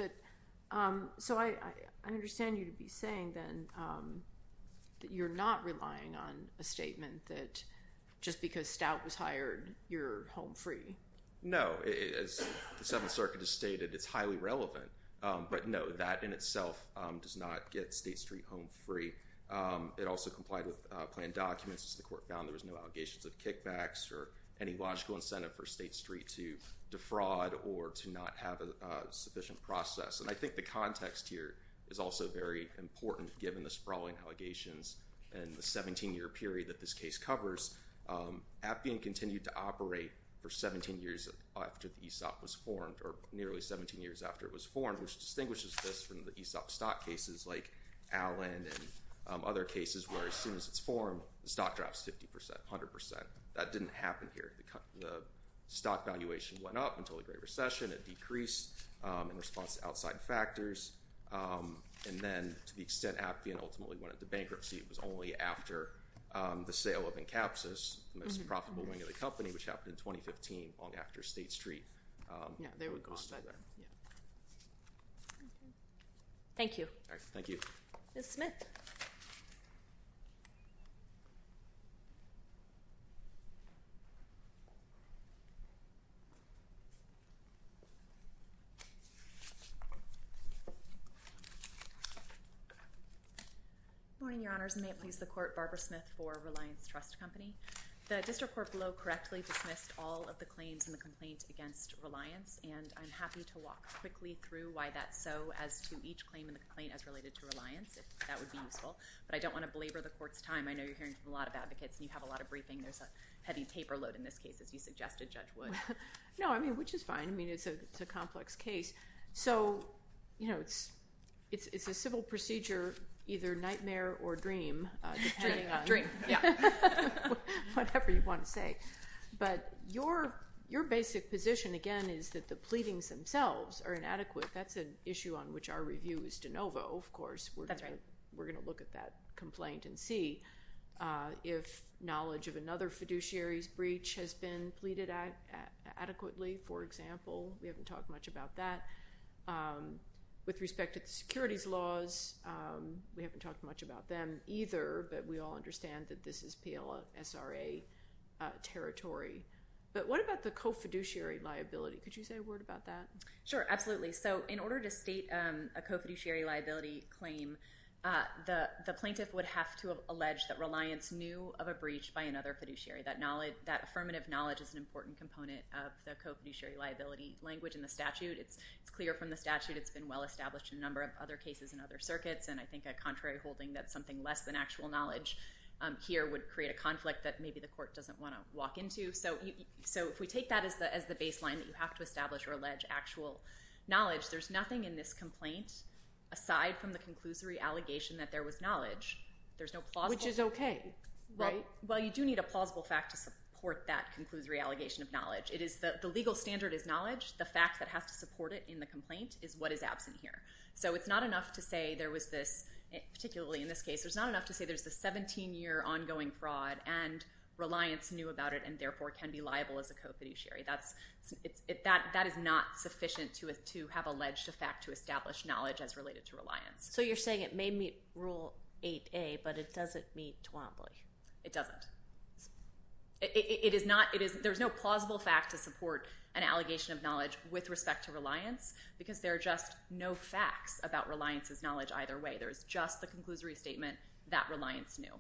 I understand you'd be saying then that you're not relying on a statement that just because Stout was hired, you're home free. No, as the Seventh Circuit has stated, it's highly relevant. But no, that in itself does not get State Street home free. It also complied with planned documents. The court found there was no allegations of kickbacks or any logical incentive for State Street to defraud or to not have a sufficient process. And I think the context here is also very important, given the sprawling allegations and the 17-year period that this case covers. Appian continued to operate for 17 years after ESOP was formed, or nearly 17 years after it was formed, which distinguishes this from the ESOP stock cases like Allen and other cases where as soon as it's formed, the stock drops 50%, 100%. That didn't happen here. The stock valuation went up until the Great Recession. It decreased in response to outside factors. And then to the extent that Appian ultimately went into bankruptcy, it was only after the sale of Encapsus, the most profitable wing of the company, which happened in 2015, long after State Street. Thank you. Thank you. Ms. Smith. Your Honors, may it please the Court, Barbara Smith for Reliance Trust Company. The District Court below correctly dismissed all of the claims and the complaints against Reliance. And I'm happy to walk quickly through why that's so as to each claim and the complaint as related to Reliance, if that would be useful. But I don't want to belabor the Court's time. I know you're hearing from a lot of advocates and you have a lot of briefing. There's a heavy paper load in this case, as you suggested, Judge Wood. No, I mean, which is fine. I mean, it's a complex case. So, you know, it's a civil procedure, either nightmare or dream. Dream. Yeah. Whatever you want to say. But your basic position, again, is that the pleadings themselves are inadequate. That's an issue on which our review is de novo, of course. That's right. We're going to look at that complaint and see if knowledge of another fiduciary's breach has been pleaded at adequately, for example. We haven't talked much about that. With respect to the securities laws, we haven't talked much about them either, but we all understand that this is PLSRA territory. But what about the co-fiduciary liability? Could you say a word about that? Sure, absolutely. So in order to state a co-fiduciary liability claim, the plaintiff would have to have alleged that Reliance knew of a breach by another fiduciary. That affirmative knowledge is an important component of the co-fiduciary liability language in the statute. It's clear from the statute it's been well-established in a number of other cases and other circuits, and I think that contrary holding that something less than actual knowledge here would create a conflict that maybe the court doesn't want to walk into. So if we take that as the baseline that you have to establish or allege actual knowledge, there's nothing in this complaint aside from the conclusory allegation that there was knowledge. Which is okay. Right? Well, you do need a plausible fact to support that conclusory allegation of knowledge. The legal standard is knowledge. The fact that has to support it in the complaint is what is absent here. So it's not enough to say there was this, particularly in this case, there's not enough to say there's this 17-year ongoing fraud and Reliance knew about it and therefore can be liable as a co-fiduciary. That is not sufficient to have alleged a fact to establish knowledge as related to Reliance. So you're saying it may meet Rule 8A, but it doesn't meet Twombly? It doesn't. There's no plausible fact to support an allegation of knowledge with respect to Reliance, because there are just no facts about Reliance's knowledge either way. There's just the conclusory statement that Reliance knew.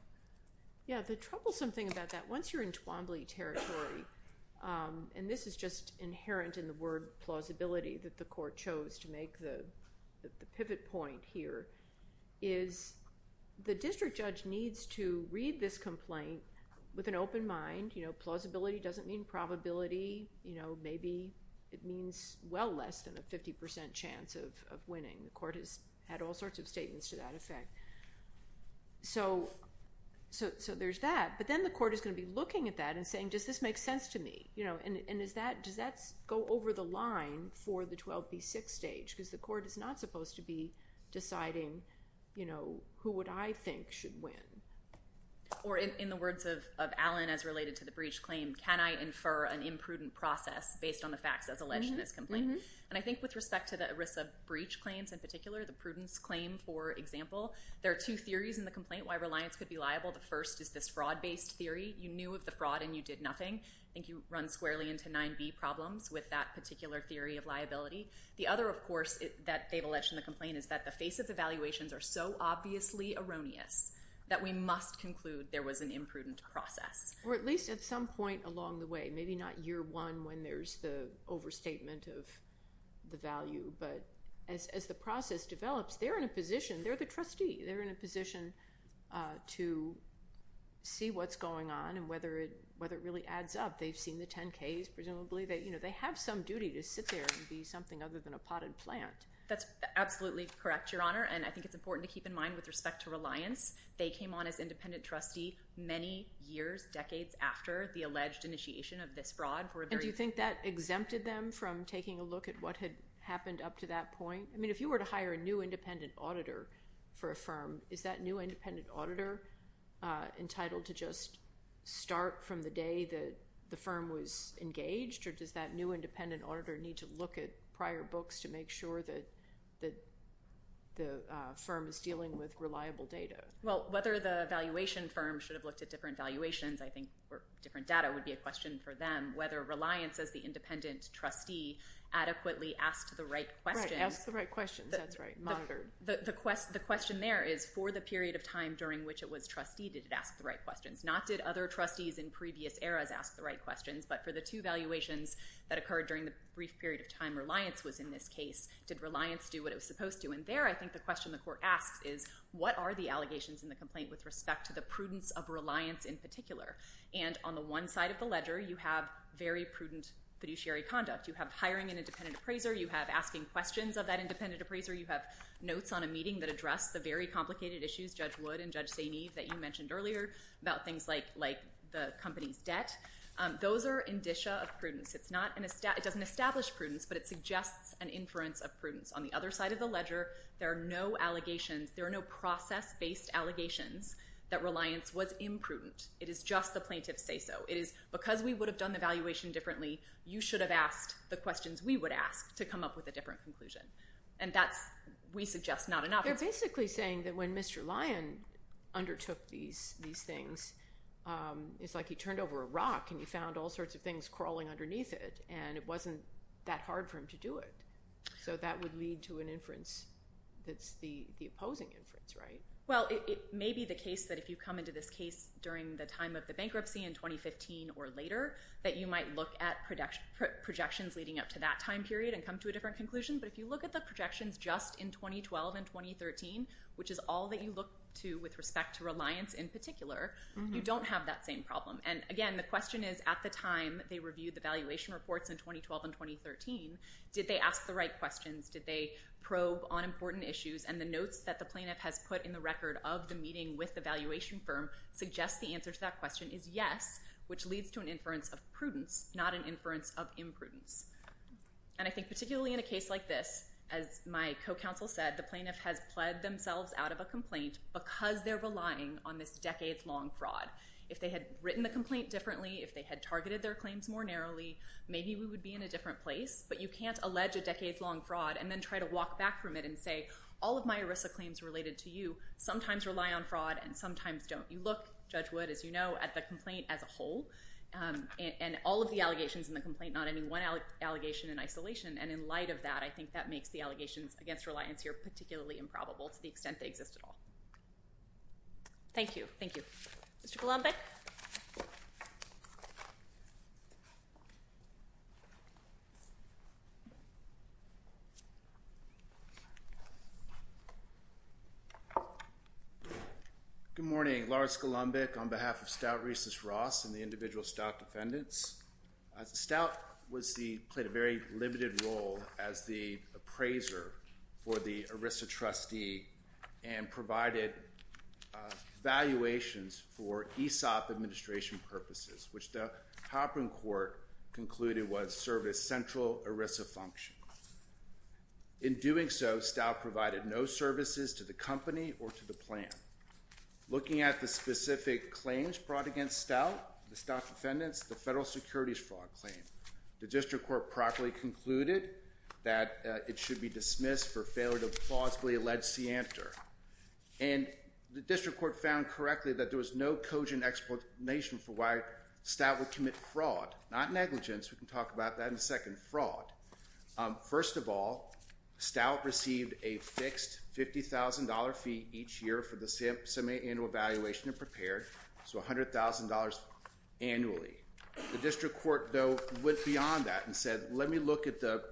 Yeah, the troublesome thing about that, once you're in Twombly territory, and this is just inherent in the word plausibility that the court chose to make the pivot point here, is the district judge needs to read this complaint with an open mind. Plausibility doesn't mean probability. Maybe it means well less than a 50% chance of winning. The court has had all sorts of statements to that effect. So there's that. But then the court is going to be looking at that and saying, does this make sense to me? And does that go over the line for the 12B6 stage? Because the court is not supposed to be deciding who would I think should win. Or in the words of Alan as related to the breach claim, can I infer an imprudent process based on the fact of alleging this complaint? And I think with respect to the risk of breach claims in particular, the prudence claim for example, the first is this fraud-based theory. You knew of the fraud and you did nothing, and you run squarely into 9B problems with that particular theory of liability. The other, of course, that they've alleged in the complaint is that the face of evaluations are so obviously erroneous that we must conclude there was an imprudent process. Or at least at some point along the way. Maybe not year one when there's the overstatement of the value. But as the process develops, they're in a position, they're the trustee, they're in a position to see what's going on and whether it really adds up. They've seen the 10Ks presumably. They have some duty to sit there and see something other than a potted plant. That's absolutely correct, Your Honor. And I think it's important to keep in mind with respect to reliance, they came on as independent trustee many years, decades after the alleged initiation of this fraud. And do you think that exempted them from taking a look at what had happened up to that point? I mean, if you were to hire a new independent auditor for a firm, is that new independent auditor entitled to just start from the day that the firm was engaged? Or does that new independent auditor need to look at prior books to make sure that the firm is dealing with reliable data? Well, whether the valuation firm should have looked at different valuations, I think, or different data would be a question for them. And whether reliance as the independent trustee adequately asked the right question. Right, asked the right question. That's right. The question there is for the period of time during which it was trustee, did it ask the right questions? Not did other trustees in previous eras ask the right questions, but for the two valuations that occurred during the brief period of time reliance was in this case, did reliance do what it was supposed to? And there I think the question the court asks is, what are the allegations in the complaint with respect to the prudence of reliance in particular? And on the one side of the ledger you have very prudent fiduciary conduct. You have hiring an independent appraiser. You have asking questions of that independent appraiser. You have notes on a meeting that address the very complicated issues Judge Wood and Judge Saini that you mentioned earlier about things like the company's debt. Those are indicia of prudence. It doesn't establish prudence, but it suggests an inference of prudence. On the other side of the ledger, there are no allegations. There are no process-based allegations that reliance was imprudent. It is just the plaintiffs say so. It is because we would have done the valuation differently, you should have asked the questions we would ask to come up with a different conclusion. And that we suggest not enough. They're basically saying that when Mr. Lyon undertook these things, it's like he turned over a rock and he found all sorts of things crawling underneath it, and it wasn't that hard for him to do it. So that would lead to an inference that's the opposing inference, right? Well, it may be the case that if you come into this case during the time of the bankruptcy in 2015 or later, that you might look at projections leading up to that time period and come to a different conclusion. But if you look at the projections just in 2012 and 2013, which is all that you look to with respect to reliance in particular, you don't have that same problem. And again, the question is, at the time they reviewed the valuation reports in 2012 and 2013, did they ask the right questions? Did they probe on important issues? And the notes that the plaintiff has put in the record of the meeting with the valuation firm suggest the answer to that question is yes, which leads to an inference of prudence, not an inference of imprudence. And I think particularly in a case like this, as my co-counsel said, the plaintiff has pled themselves out of a complaint because they're relying on this decades-long fraud. If they had written the complaint differently, if they had targeted their claims more narrowly, maybe we would be in a different place. But you can't allege a decades-long fraud and then try to walk back from it and say, all of my ERISA claims related to you sometimes rely on fraud and sometimes don't. You look, Judge Wood, as you know, at the complaint as a whole and all of the allegations in the complaint, not any one allegation in isolation. And in light of that, I think that makes the allegations against reliance here particularly improbable to the extent they exist at all. Thank you. Thank you. Mr. Golombek? Good morning. Lars Golombek on behalf of Stout Recess Ross and the individual stout defendants. The stout played a very limited role as the appraiser for the ERISA trustee and provided valuations for ESOP administration purposes, which the Hopron Court concluded was service central ERISA function. In doing so, Stout provided no services to the company or to the plan. Looking at the specific claims brought against Stout, the stout defendants, the federal securities fraud claim, the district court properly concluded that it should be dismissed for failure to plausibly allege the answer. And the district court found correctly that there was no cogent explanation for why Stout would commit fraud, not negligence. We can talk about that in a second, fraud. First of all, Stout received a fixed $50,000 fee each year for the semiannual valuation it prepared, so $100,000 annually. The district court, though, went beyond that and said, let me look at the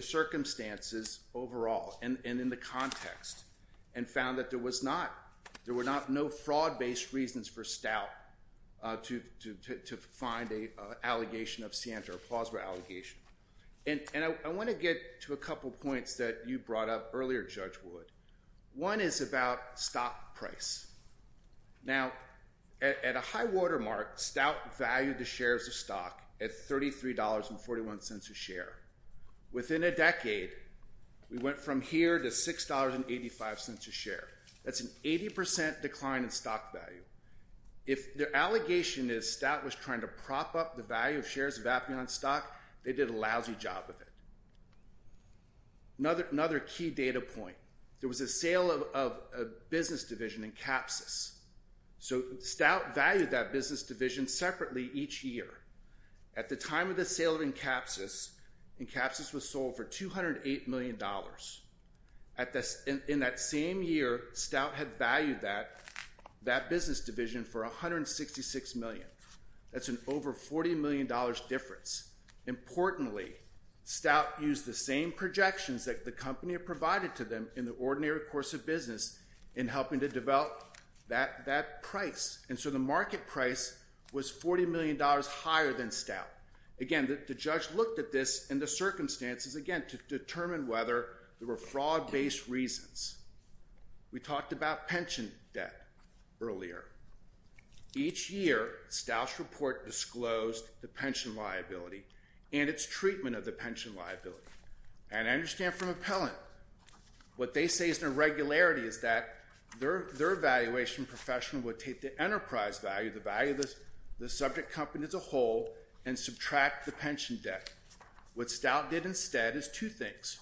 circumstances overall and in the context and found that there were no fraud-based reasons for Stout to find an allegation of stanch or a plausible allegation. And I want to get to a couple points that you brought up earlier, Judge Wood. One is about stock price. Now, at a high-water mark, Stout valued the shares of stock at $33.41 a share. Within a decade, we went from here to $6.85 a share. That's an 80% decline in stock value. If the allegation is Stout was trying to prop up the value of shares of Aplion stock, they did a lousy job of it. Another key data point. There was a sale of a business division in Capsus. So Stout valued that business division separately each year. At the time of the sale in Capsus, Capsus was sold for $208 million. In that same year, Stout had valued that business division for $166 million. That's an over $40 million difference. Importantly, Stout used the same projections that the company provided to them in the ordinary course of business in helping to develop that price. And so the market price was $40 million higher than Stout. Again, the judge looked at this and the circumstances, again, to determine whether there were fraud-based reasons. We talked about pension debt earlier. Each year, Stout's report disclosed the pension liability and its treatment of the pension liability. And I understand from Appellant, what they say is the regularity is that their evaluation professional would take the enterprise value, the value of the subject company as a whole, and subtract the pension debt. What Stout did instead is two things.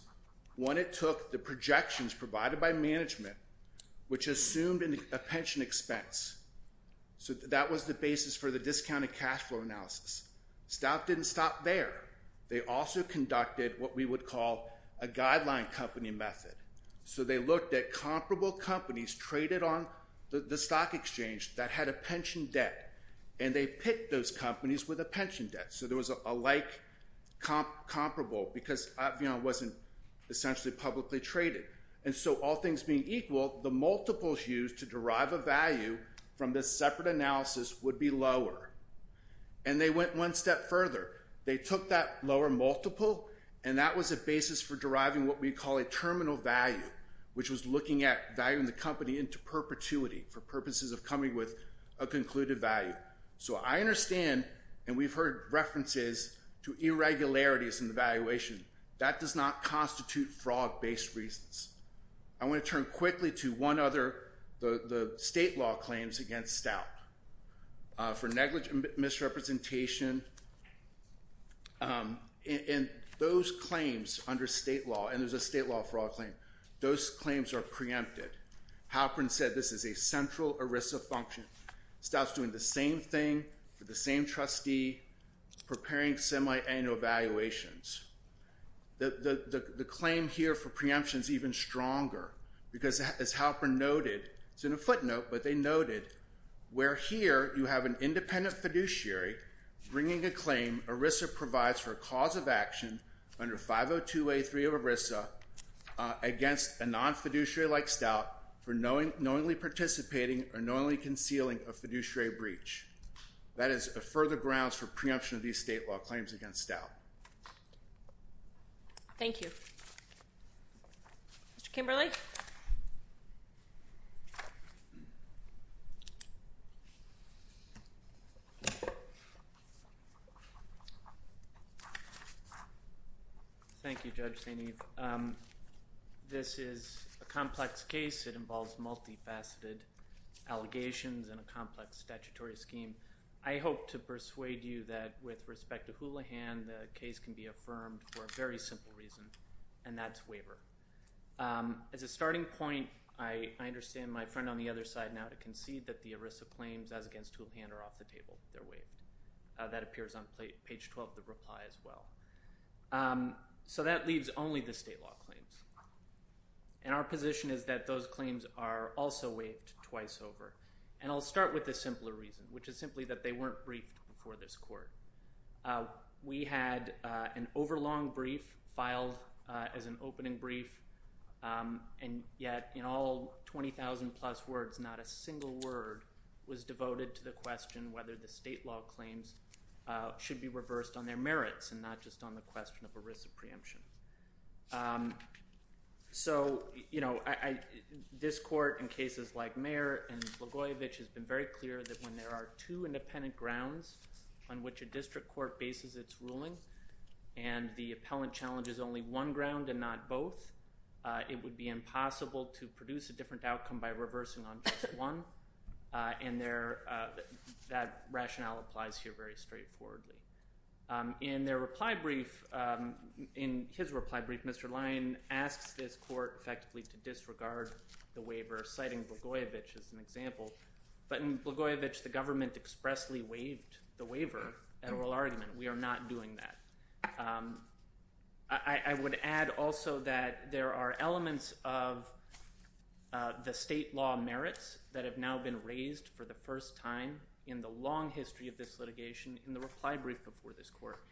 One, it took the projections provided by management, which assumed a pension expense. So that was the basis for the discounted cash flow analysis. Stout didn't stop there. They also conducted what we would call a guideline company method. So they looked at comparable companies traded on the stock exchange that had a pension debt, and they picked those companies with a pension debt. So there was a like comparable because it wasn't essentially publicly traded. And so all things being equal, the multiples used to derive a value from this separate analysis would be lower. And they went one step further. They took that lower multiple, and that was a basis for deriving what we call a terminal value, which was looking at valuing the company into perpetuity for purposes of coming with a concluded value. So I understand, and we've heard references to irregularities in evaluation. That does not constitute fraud-based reasons. I want to turn quickly to one other, the state law claims against Stout for negligent misrepresentation. In those claims under state law, and there's a state law fraud claim, those claims are preempted. Halprin said this is a central ERISA function. Stout's doing the same thing to the same trustee, preparing semi-annual evaluations. The claim here for preemption is even stronger because, as Halprin noted, it's in a footnote, but they noted, where here you have an independent fiduciary bringing a claim ERISA provides for a cause of action under 502A3 of ERISA against a non-fiduciary like Stout for knowingly participating or knowingly concealing a fiduciary breach. That is the further grounds for preemption of these state law claims against Stout. Thank you. Mr. Kimberly? Thank you, Judge Staney. This is a complex case. It involves multifaceted allegations and a complex statutory scheme. I hope to persuade you that, with respect to Houlihan, the case can be affirmed for a very simple reason, and that's waiver. As a starting point, I understand my friend on the other side now to concede that the ERISA claims as against Houlihan are off the table. They're waived. That appears on page 12 of the reply as well. So that leaves only the state law claims. And our position is that those claims are also waived twice over. And I'll start with the simpler reason, which is simply that they weren't briefed before this court. We had an overlong brief filed as an opening brief, and yet in all 20,000-plus words, not a single word was devoted to the question whether the state law claims should be reversed on their merits and not just on the question of ERISA preemption. So, you know, this court, in cases like Mayer and Blagojevich, has been very clear that when there are two independent grounds on which a district court bases its ruling and the appellant challenges only one ground and not both, it would be impossible to produce a different outcome by reversing on just one. And that rationale applies here very straightforwardly. In their reply brief, in his reply brief, Mr. Lyon asked this court effectively to disregard the waiver, citing Blagojevich as an example. But in Blagojevich, the government expressly waived the waiver, an oral argument. We are not doing that. I would add also that there are elements of the state law merits that have now been raised for the first time in the long history of this litigation in the reply brief before this court,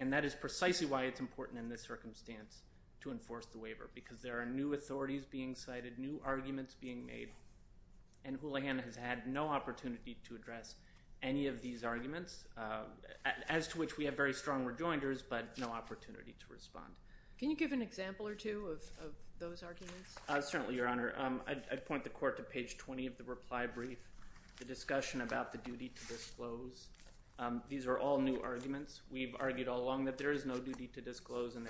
and that is precisely why it's important in this circumstance to enforce the waiver because there are new authorities being cited, new arguments being made, and Hooligan has had no opportunity to address any of these arguments, as to which we have very strong rejoinders, but no opportunity to respond. Can you give an example or two of those arguments? Certainly, Your Honor. I'd point the court to page 20 of the reply brief, the discussion about the duty to disclose. These are all new arguments. We've argued all along that there is no duty to disclose, and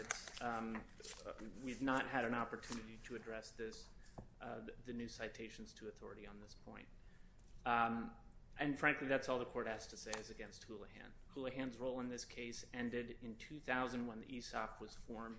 we've not had an opportunity to address the new citations to authority on this point. And frankly, that's all the court has to say against Hooligan. Hooligan's role in this case ended in 2000 when the ESOP was formed,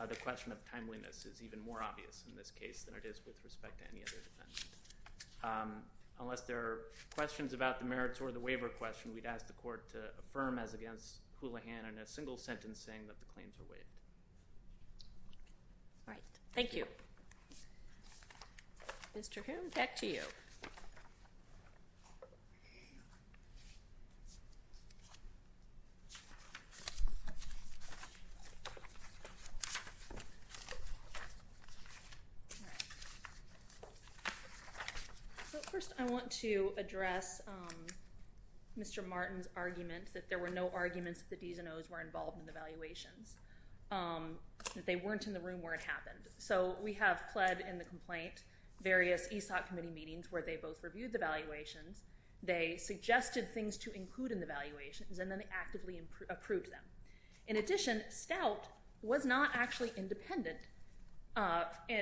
so the question of timeliness is even more obvious in this case than it is with respect to any other defendants. Unless there are questions about the merits or the waiver question, we'd ask the court to affirm as against Hooligan in a single sentence saying that the claims are waived. All right. Thank you. Mr. Hoon, back to you. First, I want to address Mr. Martin's argument that there were no arguments that these NOs were involved in the evaluation, that they weren't in the room where it happened. So we have pledged in the complaint various ESOP committee meetings where they both reviewed the valuations. They suggested things to include in the valuations, and then they actively approved them. In addition, Stout was not actually independent.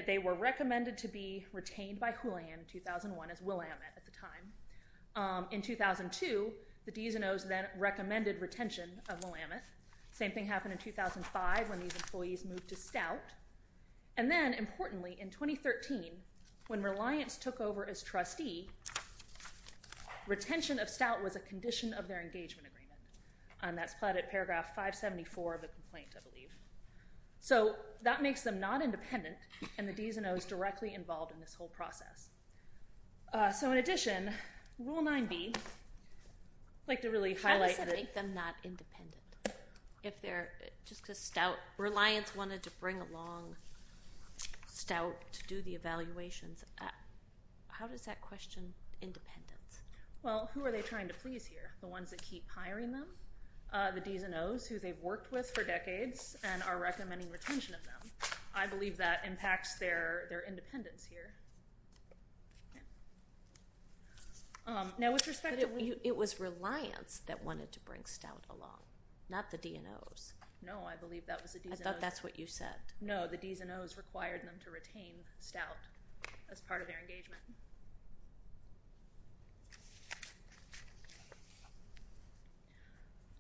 They were recommended to be retained by Hooligan in 2001, as Willamette at the time. In 2002, the DSNOs then recommended retention of Willamette. Same thing happened in 2005 when these employees moved to Stout. And then, importantly, in 2013, when Reliance took over as trustee, retention of Stout was a condition of their engagement agreement. That's plotted in paragraph 574 of the complaint, I believe. So that makes them not independent, and the DSNOs directly involved in this whole process. So in addition, Rule 9b, I'd like to really highlight that. That makes them not independent. Just because Reliance wanted to bring along Stout to do the evaluations, how does that question independence? Well, who are they trying to freeze here? The ones that keep hiring them? The DSNOs who they've worked with for decades and are recommending retention of them? I believe that impacts their independence here. It was Reliance that wanted to bring Stout along, not the DSNOs. No, I believe that was the DSNOs. I thought that's what you said. No, the DSNOs required them to retain Stout as part of their engagement.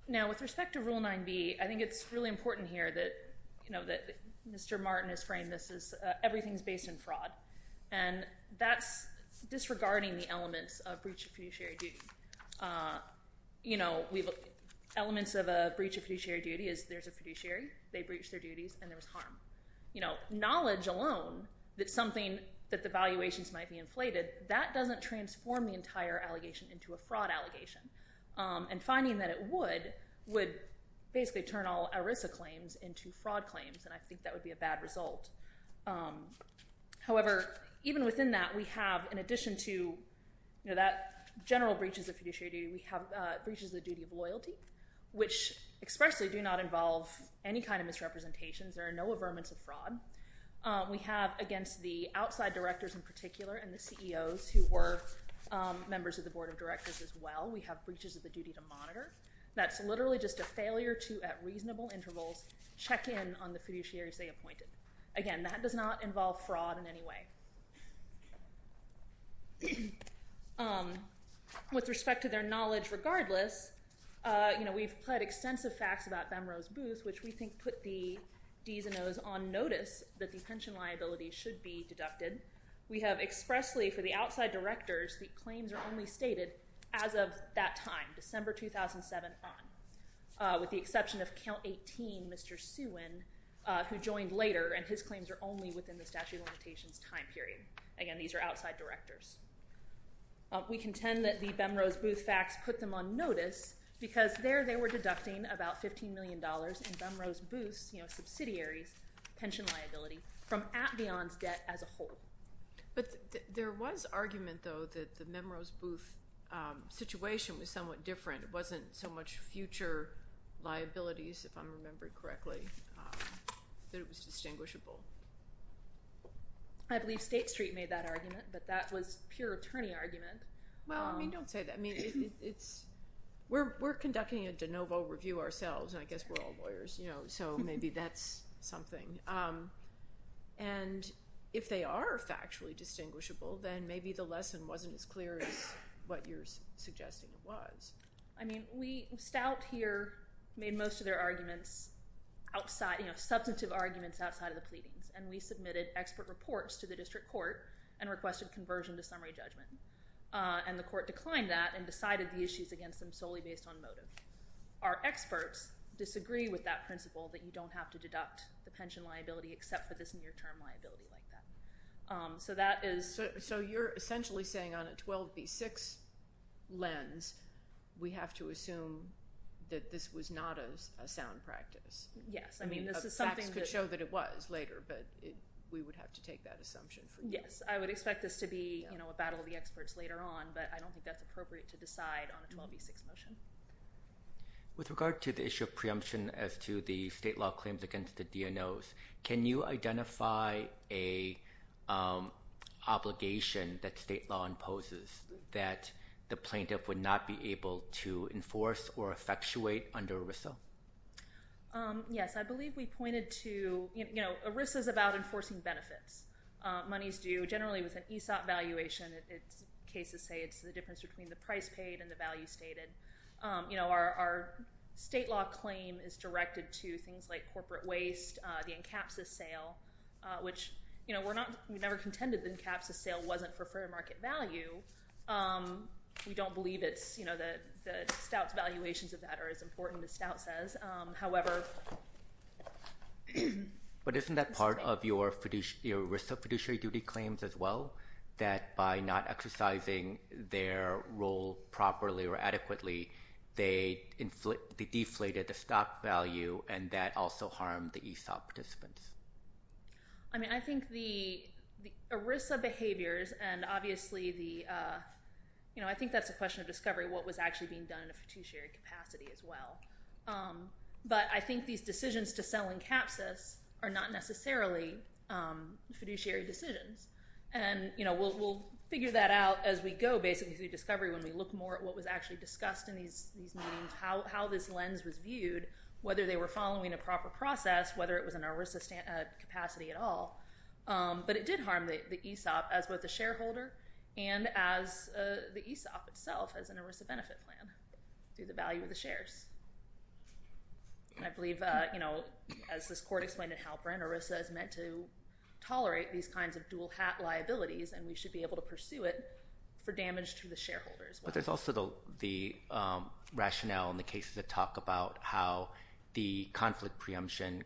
Now, with respect to Rule 9b, I think it's really important here that Mr. Martin has framed this as everything's based in fraud. And that's disregarding the elements of breach of fiduciary duty. Elements of a breach of fiduciary duty is there's a fiduciary, they breach their duties, and there's harm. Knowledge alone, that something, that the valuations might be inflated, that doesn't transform the entire allegation into a fraud allegation. And finding that it would, would basically turn all ERITA claims into fraud claims, and I think that would be a bad result. However, even within that, we have, in addition to, you know, that general breach of fiduciary duty, we have breaches of duty of loyalty, which expressly do not involve any kind of misrepresentations. There are no averments of fraud. We have, against the outside directors in particular and the CEOs who were members of the Board of Directors as well, we have breaches of the duty to monitor. That's literally just a failure to, at reasonable intervals, check in on the fiduciaries they appointed. Again, that does not involve fraud in any way. With respect to their knowledge, regardless, you know, we've had extensive facts about Benrose Booth, which we think put the D's and O's on notice that the pension liability should be deducted. We have expressly, for the outside directors, whose claims are only stated as of that time, December 2007, with the exception of Count 18, Mr. Stewin, who joined later, and his claims are only within the statute of limitations time period. Again, these are outside directors. We contend that the Benrose Booth facts put them on notice because there they were deducting about $15 million in Benrose Booth's, you know, subsidiary pension liability from AtBeyond's debt as a whole. But there was argument, though, that the Benrose Booth situation was somewhat different. It wasn't so much future liabilities, if I'm remembering correctly. It was distinguishable. I believe State Street made that argument, but that was pure attorney argument. Well, I mean, don't say that. I mean, we're conducting a de novo review ourselves, and I guess we're all lawyers, you know, so maybe that's something. And if they are factually distinguishable, then maybe the lesson wasn't as clear as what you're suggesting it was. I mean, Stout here made most of their arguments outside, you know, substantive arguments outside of the pleadings, and we submitted expert reports to the district court and requested conversion to summary judgment. And the court declined that and decided the issues against them solely based on motive. Our experts disagree with that principle that you don't have to deduct the pension liability except for this near-term liability like that. So you're essentially saying on a 12B6 lens, we have to assume that this was not a sound practice. Yes. I mean, this is something to show that it was later, but we would have to take that assumption. Yes, I would expect this to be a battle of the experts later on, but I don't think that's appropriate to decide on a 12B6 motion. With regard to the issue of preemption as to the state law claims against the DNOs, can you identify an obligation that state law imposes that the plaintiff would not be able to enforce or effectuate under ERISA? Yes. I believe we pointed to, you know, ERISA is about enforcing benefits. Monies due generally with an ESOP valuation, cases say it's the difference between the price paid and the value stated. You know, our state law claim is directed to things like corporate waste, the INCAPSUS sale, which, you know, we never contended the INCAPSUS sale wasn't for fair market value. We don't believe it's, you know, the stout valuations of that are as important as stout says. However… But isn't that part of your ERISA fiduciary duty claims as well, that by not exercising their role properly or adequately, they deflated the stock value and that also harmed the ESOP participants? I mean, I think the ERISA behaviors and obviously the, you know, I think that's a question of discovery what was actually being done in a fiduciary capacity as well. But I think these decisions to sell INCAPSUS are not necessarily fiduciary decisions. And, you know, we'll figure that out as we go, basically, as we do discovery when we look more at what was actually discussed in these meetings, how this lens was viewed, whether they were following a proper process, whether it was an ERISA capacity at all. But it did harm the ESOP as both a shareholder and as the ESOP itself as an ERISA benefit plan through the value of the shares. I believe, you know, as this court explained at Halperin, ERISA is meant to tolerate these kinds of dual-hat liabilities and we should be able to pursue it for damage to the shareholders. But there's also the rationale in the cases that talk about how the conflict preemption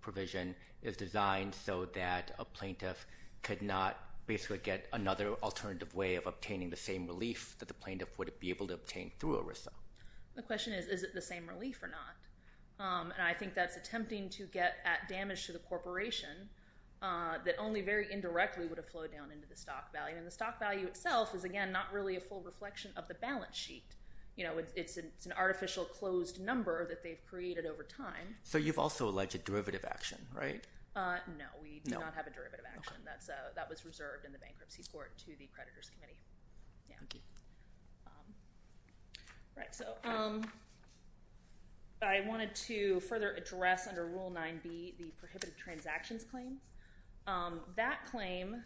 provision is designed so that a plaintiff could not basically get another alternative way of obtaining the same relief that the plaintiff would be able to obtain through ERISA. My question is, is it the same relief or not? And I think that's attempting to get at damage to the corporation that only very indirectly would have flowed down into the stock value. And the stock value itself is, again, not really a full reflection of the balance sheet. You know, it's an artificial closed number that they've created over time. So you've also alleged derivative action, right? No, we do not have a derivative action. That was reserved in the bankruptcy court to the creditors committee. Thank you. All right, so I wanted to further address under Rule 9B the prohibited transactions claim. That claim,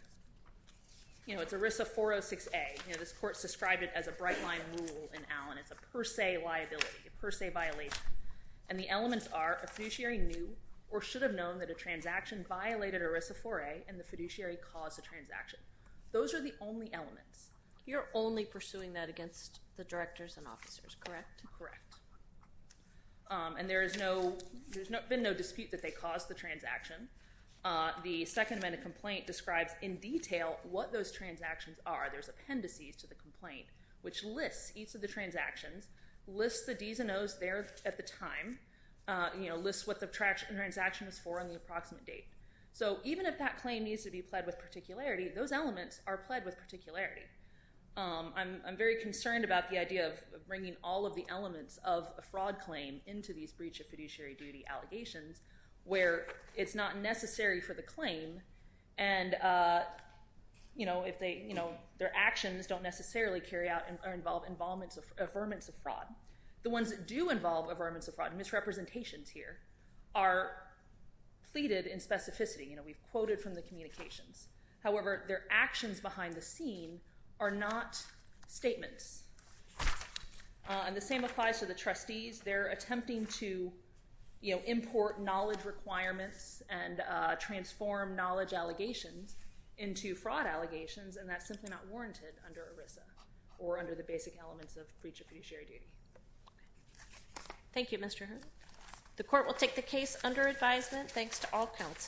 you know, it's ERISA 406A. You know, this court described it as a bright-line rule in Allen. It's a per se liability, a per se violation. And the elements are a fiduciary knew or should have known that a transaction violated ERISA 4A and the fiduciary caused the transaction. Those are the only elements. You're only pursuing that against the directors and officers, correct? Correct. And there's been no dispute that they caused the transaction. The second amendment complaint describes in detail what those transactions are. There's appendices to the complaint which lists each of the transactions, lists the D's and O's there at the time, you know, lists what the transaction is for and the approximate date. So even if that claim needs to be applied with particularity, those elements are applied with particularity. I'm very concerned about the idea of bringing all of the elements of a fraud claim into these breach of fiduciary duty allegations where it's not necessary for the claim. And, you know, if they, you know, their actions don't necessarily carry out or involve a vermin of fraud. The ones that do involve a vermin of fraud, misrepresentations here, are pleaded in specificity. You know, we've quoted from the communications. However, their actions behind the scenes are not statements. And the same applies to the trustees. They're attempting to, you know, import knowledge requirements and transform knowledge allegations into fraud allegations, and that's simply not warranted under ERISA or under the basic elements of breach of fiduciary duty. Thank you, Mr. Hood. The court will take the case under advisement. Thanks to all counsel.